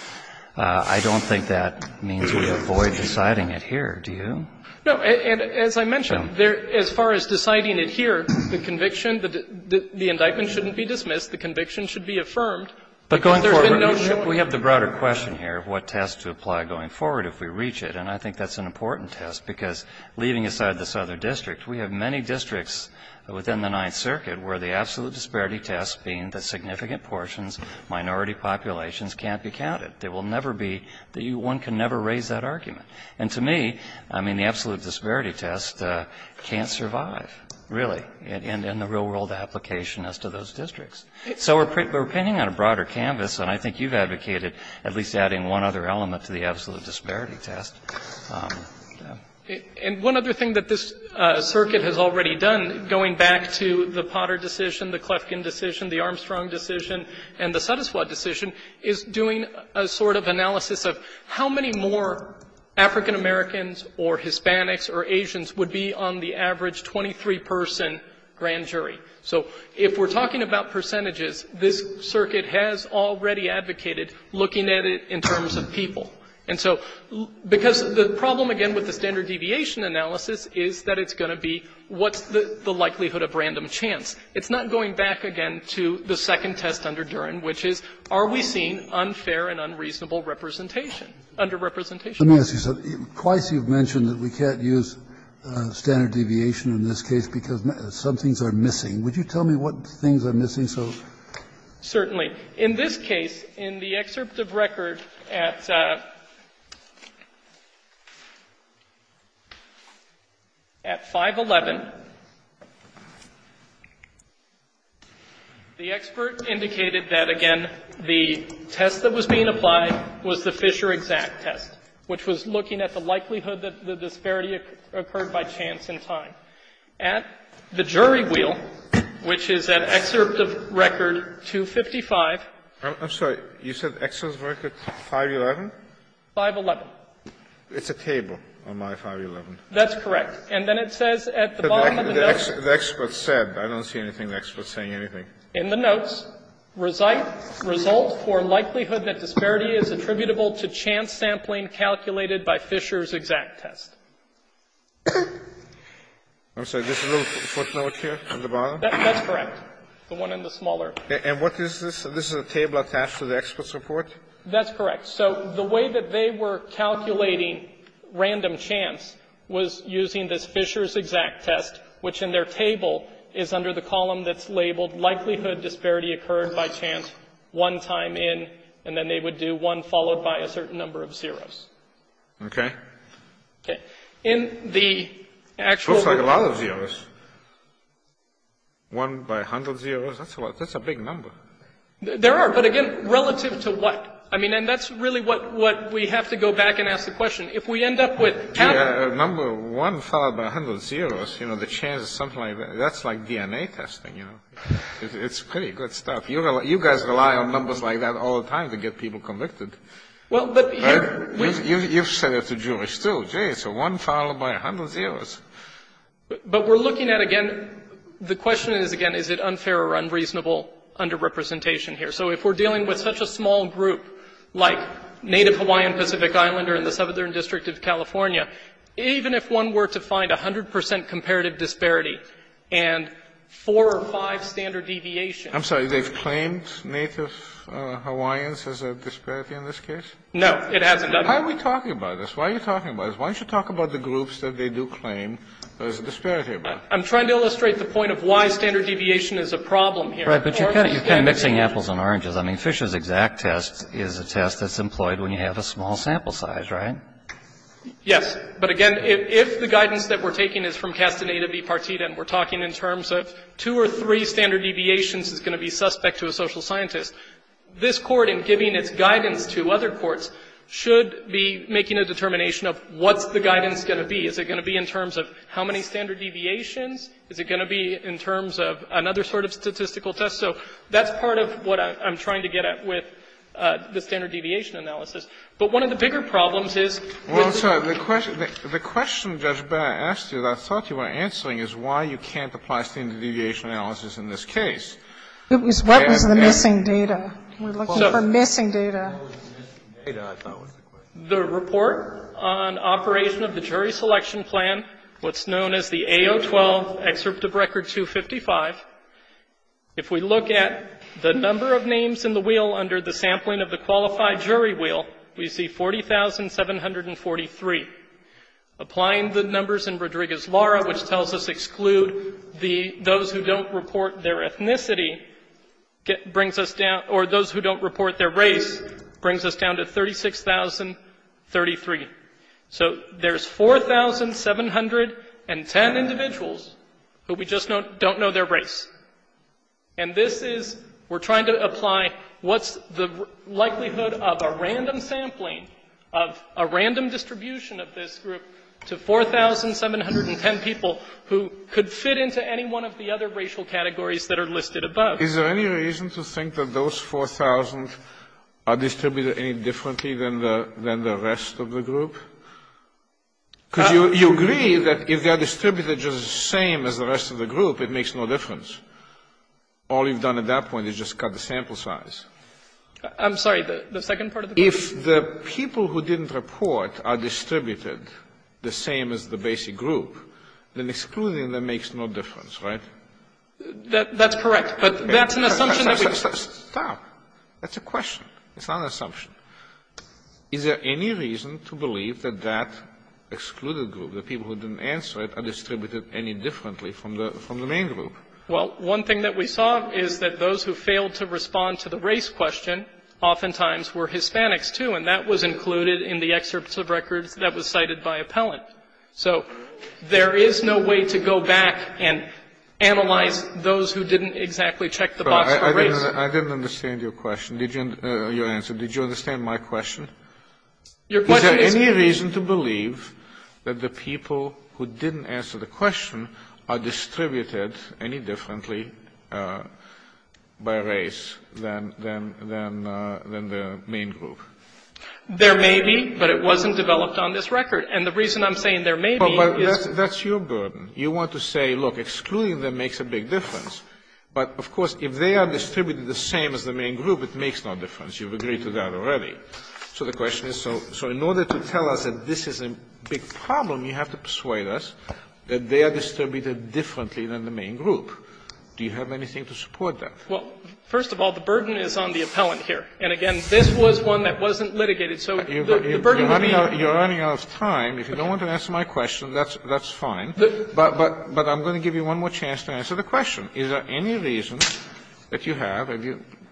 I don't think that means we avoid deciding it here. Do you? No. And as I mentioned, as far as deciding it here, the conviction, the indictment shouldn't be dismissed. The conviction should be affirmed. But going forward, we have the broader question here of what tests to apply going forward if we reach it. And I think that's an important test, because leaving aside this other district, we have many districts within the Ninth Circuit where the absolute disparity test being the significant portions, minority populations, can't be counted. There will never be the one can never raise that argument. And to me, I mean, the absolute disparity test can't survive, really, in the real world application as to those districts. So we're pinning on a broader canvas, and I think you've advocated at least adding one other element to the absolute disparity test. And one other thing that this circuit has already done, going back to the Potter decision, the Klefkin decision, the Armstrong decision, and the Sotuswad decision, is doing a sort of analysis of how many more African-Americans or Hispanics or Asians would be on the average 23-person grand jury. So if we're talking about percentages, this circuit has already advocated looking at it in terms of people. And so because the problem, again, with the standard deviation analysis is that it's going to be what's the likelihood of random chance. It's not going back, again, to the second test under Duren, which is are we seeing unfair and unreasonable representation, under-representation? Kennedy, twice you've mentioned that we can't use standard deviation in this case because some things are missing. Would you tell me what things are missing so? Certainly. In this case, in the excerpt of record at 511, the expert indicated that, again, the test that was being applied was the Fisher exact test, which was looking at the likelihood that the disparity occurred by chance in time. At the jury wheel, which is at excerpt of record 255. I'm sorry. You said excerpt of record 511? 511. It's a table on my 511. That's correct. And then it says at the bottom of the note. The expert said. I don't see anything the expert's saying anything. In the notes, result for likelihood that disparity is attributable to chance sampling and calculated by Fisher's exact test. I'm sorry. This little footnote here at the bottom? That's correct. The one in the smaller. And what is this? This is a table attached to the expert's report? That's correct. So the way that they were calculating random chance was using this Fisher's exact test, which in their table is under the column that's labeled likelihood disparity occurred by chance one time in. And then they would do one followed by a certain number of zeros. Okay. Okay. In the actual. Looks like a lot of zeros. One by a hundred zeros. That's a big number. There are. But again, relative to what? I mean, and that's really what we have to go back and ask the question. If we end up with. Number one followed by a hundred zeros. You know, the chance is something like. That's like DNA testing, you know. It's pretty good stuff. You guys rely on numbers like that all the time to get people convicted. Well, but. You've said it to Jewish, too. It's a one followed by a hundred zeros. But we're looking at, again, the question is, again, is it unfair or unreasonable underrepresentation here? So if we're dealing with such a small group like Native Hawaiian Pacific Islander in the Southern District of California, even if one were to find 100 percent comparative disparity and four or five standard deviations. I'm sorry. They've claimed Native Hawaiians as a disparity in this case? No, it hasn't. Why are we talking about this? Why are you talking about this? Why don't you talk about the groups that they do claim there's a disparity? I'm trying to illustrate the point of why standard deviation is a problem here. Right. But you're kind of mixing apples and oranges. I mean, Fisher's exact test is a test that's employed when you have a small sample size, right? Yes. But, again, if the guidance that we're taking is from Castaneda v. Partita and we're talking in terms of two or three standard deviations is going to be suspect to a social scientist, this Court in giving its guidance to other courts should be making a determination of what's the guidance going to be. Is it going to be in terms of how many standard deviations? Is it going to be in terms of another sort of statistical test? So that's part of what I'm trying to get at with the standard deviation analysis. The question Judge Barrett asked you that I thought you were answering is why you can't apply standard deviation analysis in this case. It was what was the missing data? We're looking for missing data. The report on operation of the jury selection plan, what's known as the AO 12, excerpt of Record 255, if we look at the number of names in the wheel under the sampling of the qualified jury wheel, we see 40,743. Applying the numbers in Rodriguez-Lara, which tells us exclude the those who don't report their ethnicity, brings us down or those who don't report their race, brings us down to 36,033. So there's 4,710 individuals who we just don't know their race. And this is we're trying to apply what's the likelihood of a random sampling of a random distribution of this group to 4,710 people who could fit into any one of the other racial categories that are listed above. Is there any reason to think that those 4,000 are distributed any differently than the rest of the group? Because you agree that if they are distributed just the same as the rest of the group, it makes no difference. All you've done at that point is just cut the sample size. I'm sorry. The second part of the question? If the people who didn't report are distributed the same as the basic group, then excluding them makes no difference, right? That's correct. But that's an assumption that we've made. Stop. That's a question. It's not an assumption. Is there any reason to believe that that excluded group, the people who didn't answer it, are distributed any differently from the main group? Well, one thing that we saw is that those who failed to respond to the race question oftentimes were Hispanics, too, and that was included in the excerpts of records that was cited by appellant. So there is no way to go back and analyze those who didn't exactly check the box for race. I didn't understand your question, your answer. Did you understand my question? Your question is? Is there any reason to believe that the people who didn't answer the question are distributed any differently by race than the main group? There may be, but it wasn't developed on this record. And the reason I'm saying there may be is? That's your burden. You want to say, look, excluding them makes a big difference. But, of course, if they are distributed the same as the main group, it makes no difference. You've agreed to that already. So the question is, so in order to tell us that this is a big problem, you have to persuade us that they are distributed differently than the main group. Do you have anything to support that? Well, first of all, the burden is on the appellant here. And, again, this was one that wasn't litigated. So the burden would be on the main group. You're running out of time. If you don't want to answer my question, that's fine. But I'm going to give you one more chance to answer the question. Is there any reason that you have,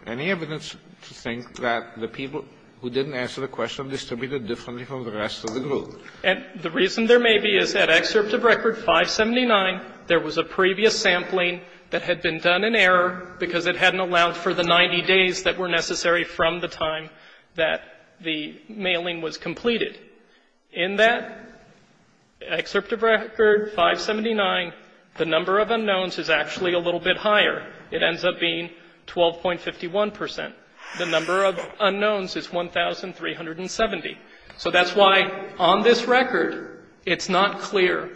any evidence to think that the people who didn't answer the question are distributed differently from the rest of the group? And the reason there may be is that excerpt of Record 579, there was a previous sampling that had been done in error because it hadn't allowed for the 90 days that were necessary from the time that the mailing was completed. In that excerpt of Record 579, the number of unknowns is actually a little bit higher. It ends up being 12.51 percent. The number of unknowns is 1,370. So that's why on this record, it's not clear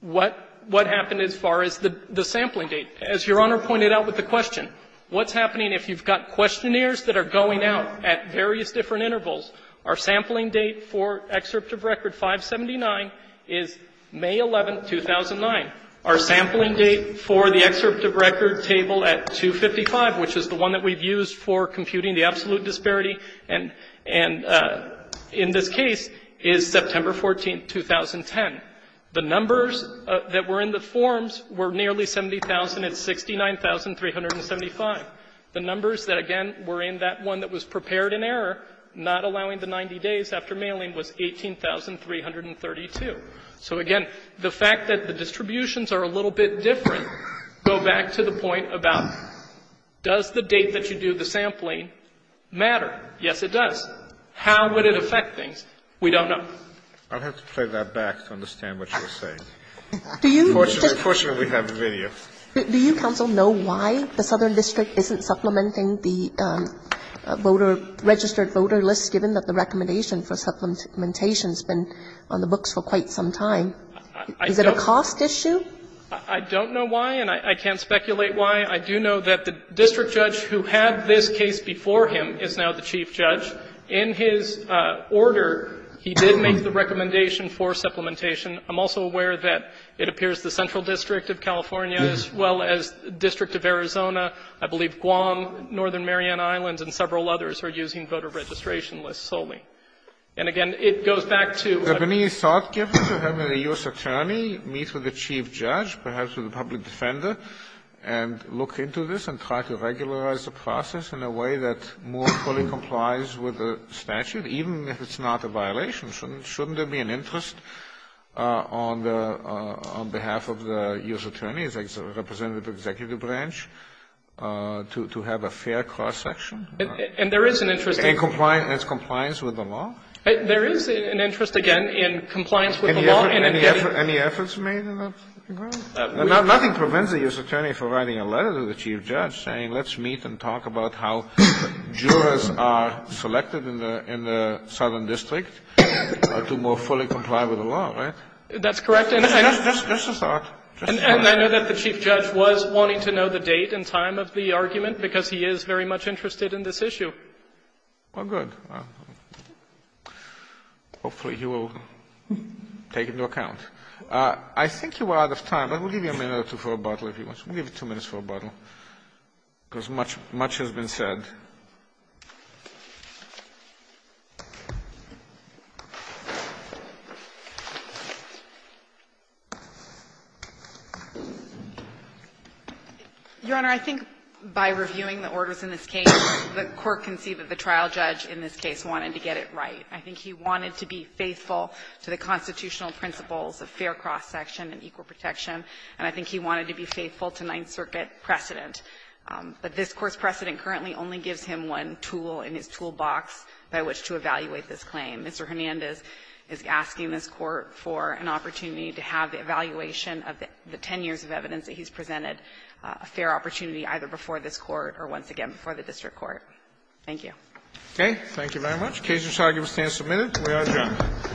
what happened as far as the sampling date. As Your Honor pointed out with the question, what's happening if you've got questionnaires that are going out at various different intervals? Our sampling date for excerpt of Record 579 is May 11, 2009. Our sampling date for the excerpt of Record table at 255, which is the one that we've used for computing the absolute disparity, and in this case is September 14, 2010. The numbers that were in the forms were nearly 70,000. It's 69,375. The numbers that, again, were in that one that was prepared in error, not allowing the 90 days after mailing, was 18,332. So, again, the fact that the distributions are a little bit different go back to the point about, does the date that you do the sampling matter? Yes, it does. How would it affect things? We don't know. Kennedy, I'll have to play that back to understand what you're saying. Unfortunately, we have video. Do you, counsel, know why the Southern District isn't supplementing the voter registered voter list, given that the recommendation for supplementation has been on the books for quite some time? Is it a cost issue? I don't know why, and I can't speculate why. I do know that the district judge who had this case before him is now the chief judge. In his order, he did make the recommendation for supplementation. I'm also aware that it appears the Central District of California, as well as the District of Arizona, I believe Guam, Northern Mariana Islands, and several others are using voter registration lists solely. And, again, it goes back to the need to meet with the chief judge, perhaps with the public defender, and look into this and try to regularize the process in a way that more fully complies with the statute, even if it's not a violation. Shouldn't there be an interest on behalf of the U.S. Attorney's representative executive branch to have a fair cross-section? And there is an interest in compliance with the law. There is an interest, again, in compliance with the law and in getting Any efforts made in that regard? Nothing prevents a U.S. Attorney from writing a letter to the chief judge saying let's meet and talk about how jurors are selected in the Southern District. To more fully comply with the law, right? That's correct. And I know that the chief judge was wanting to know the date and time of the argument because he is very much interested in this issue. Well, good. Hopefully he will take into account. I think you are out of time. I will give you a minute or two for a bottle if you want. We'll give you two minutes for a bottle, because much has been said. Your Honor, I think by reviewing the orders in this case, the Court can see that the trial judge in this case wanted to get it right. I think he wanted to be faithful to the constitutional principles of fair cross-section and equal protection, and I think he wanted to be faithful to Ninth Circuit precedent. But this Court's precedent currently only gives him one tool in his toolbox by which to evaluate this claim. Mr. Hernandez is asking this Court for an opportunity to have the evaluation of the ten years of evidence that he's presented, a fair opportunity either before this Court or once again before the district court. Thank you. Okay. Thank you very much. The case is now submitted. We are adjourned.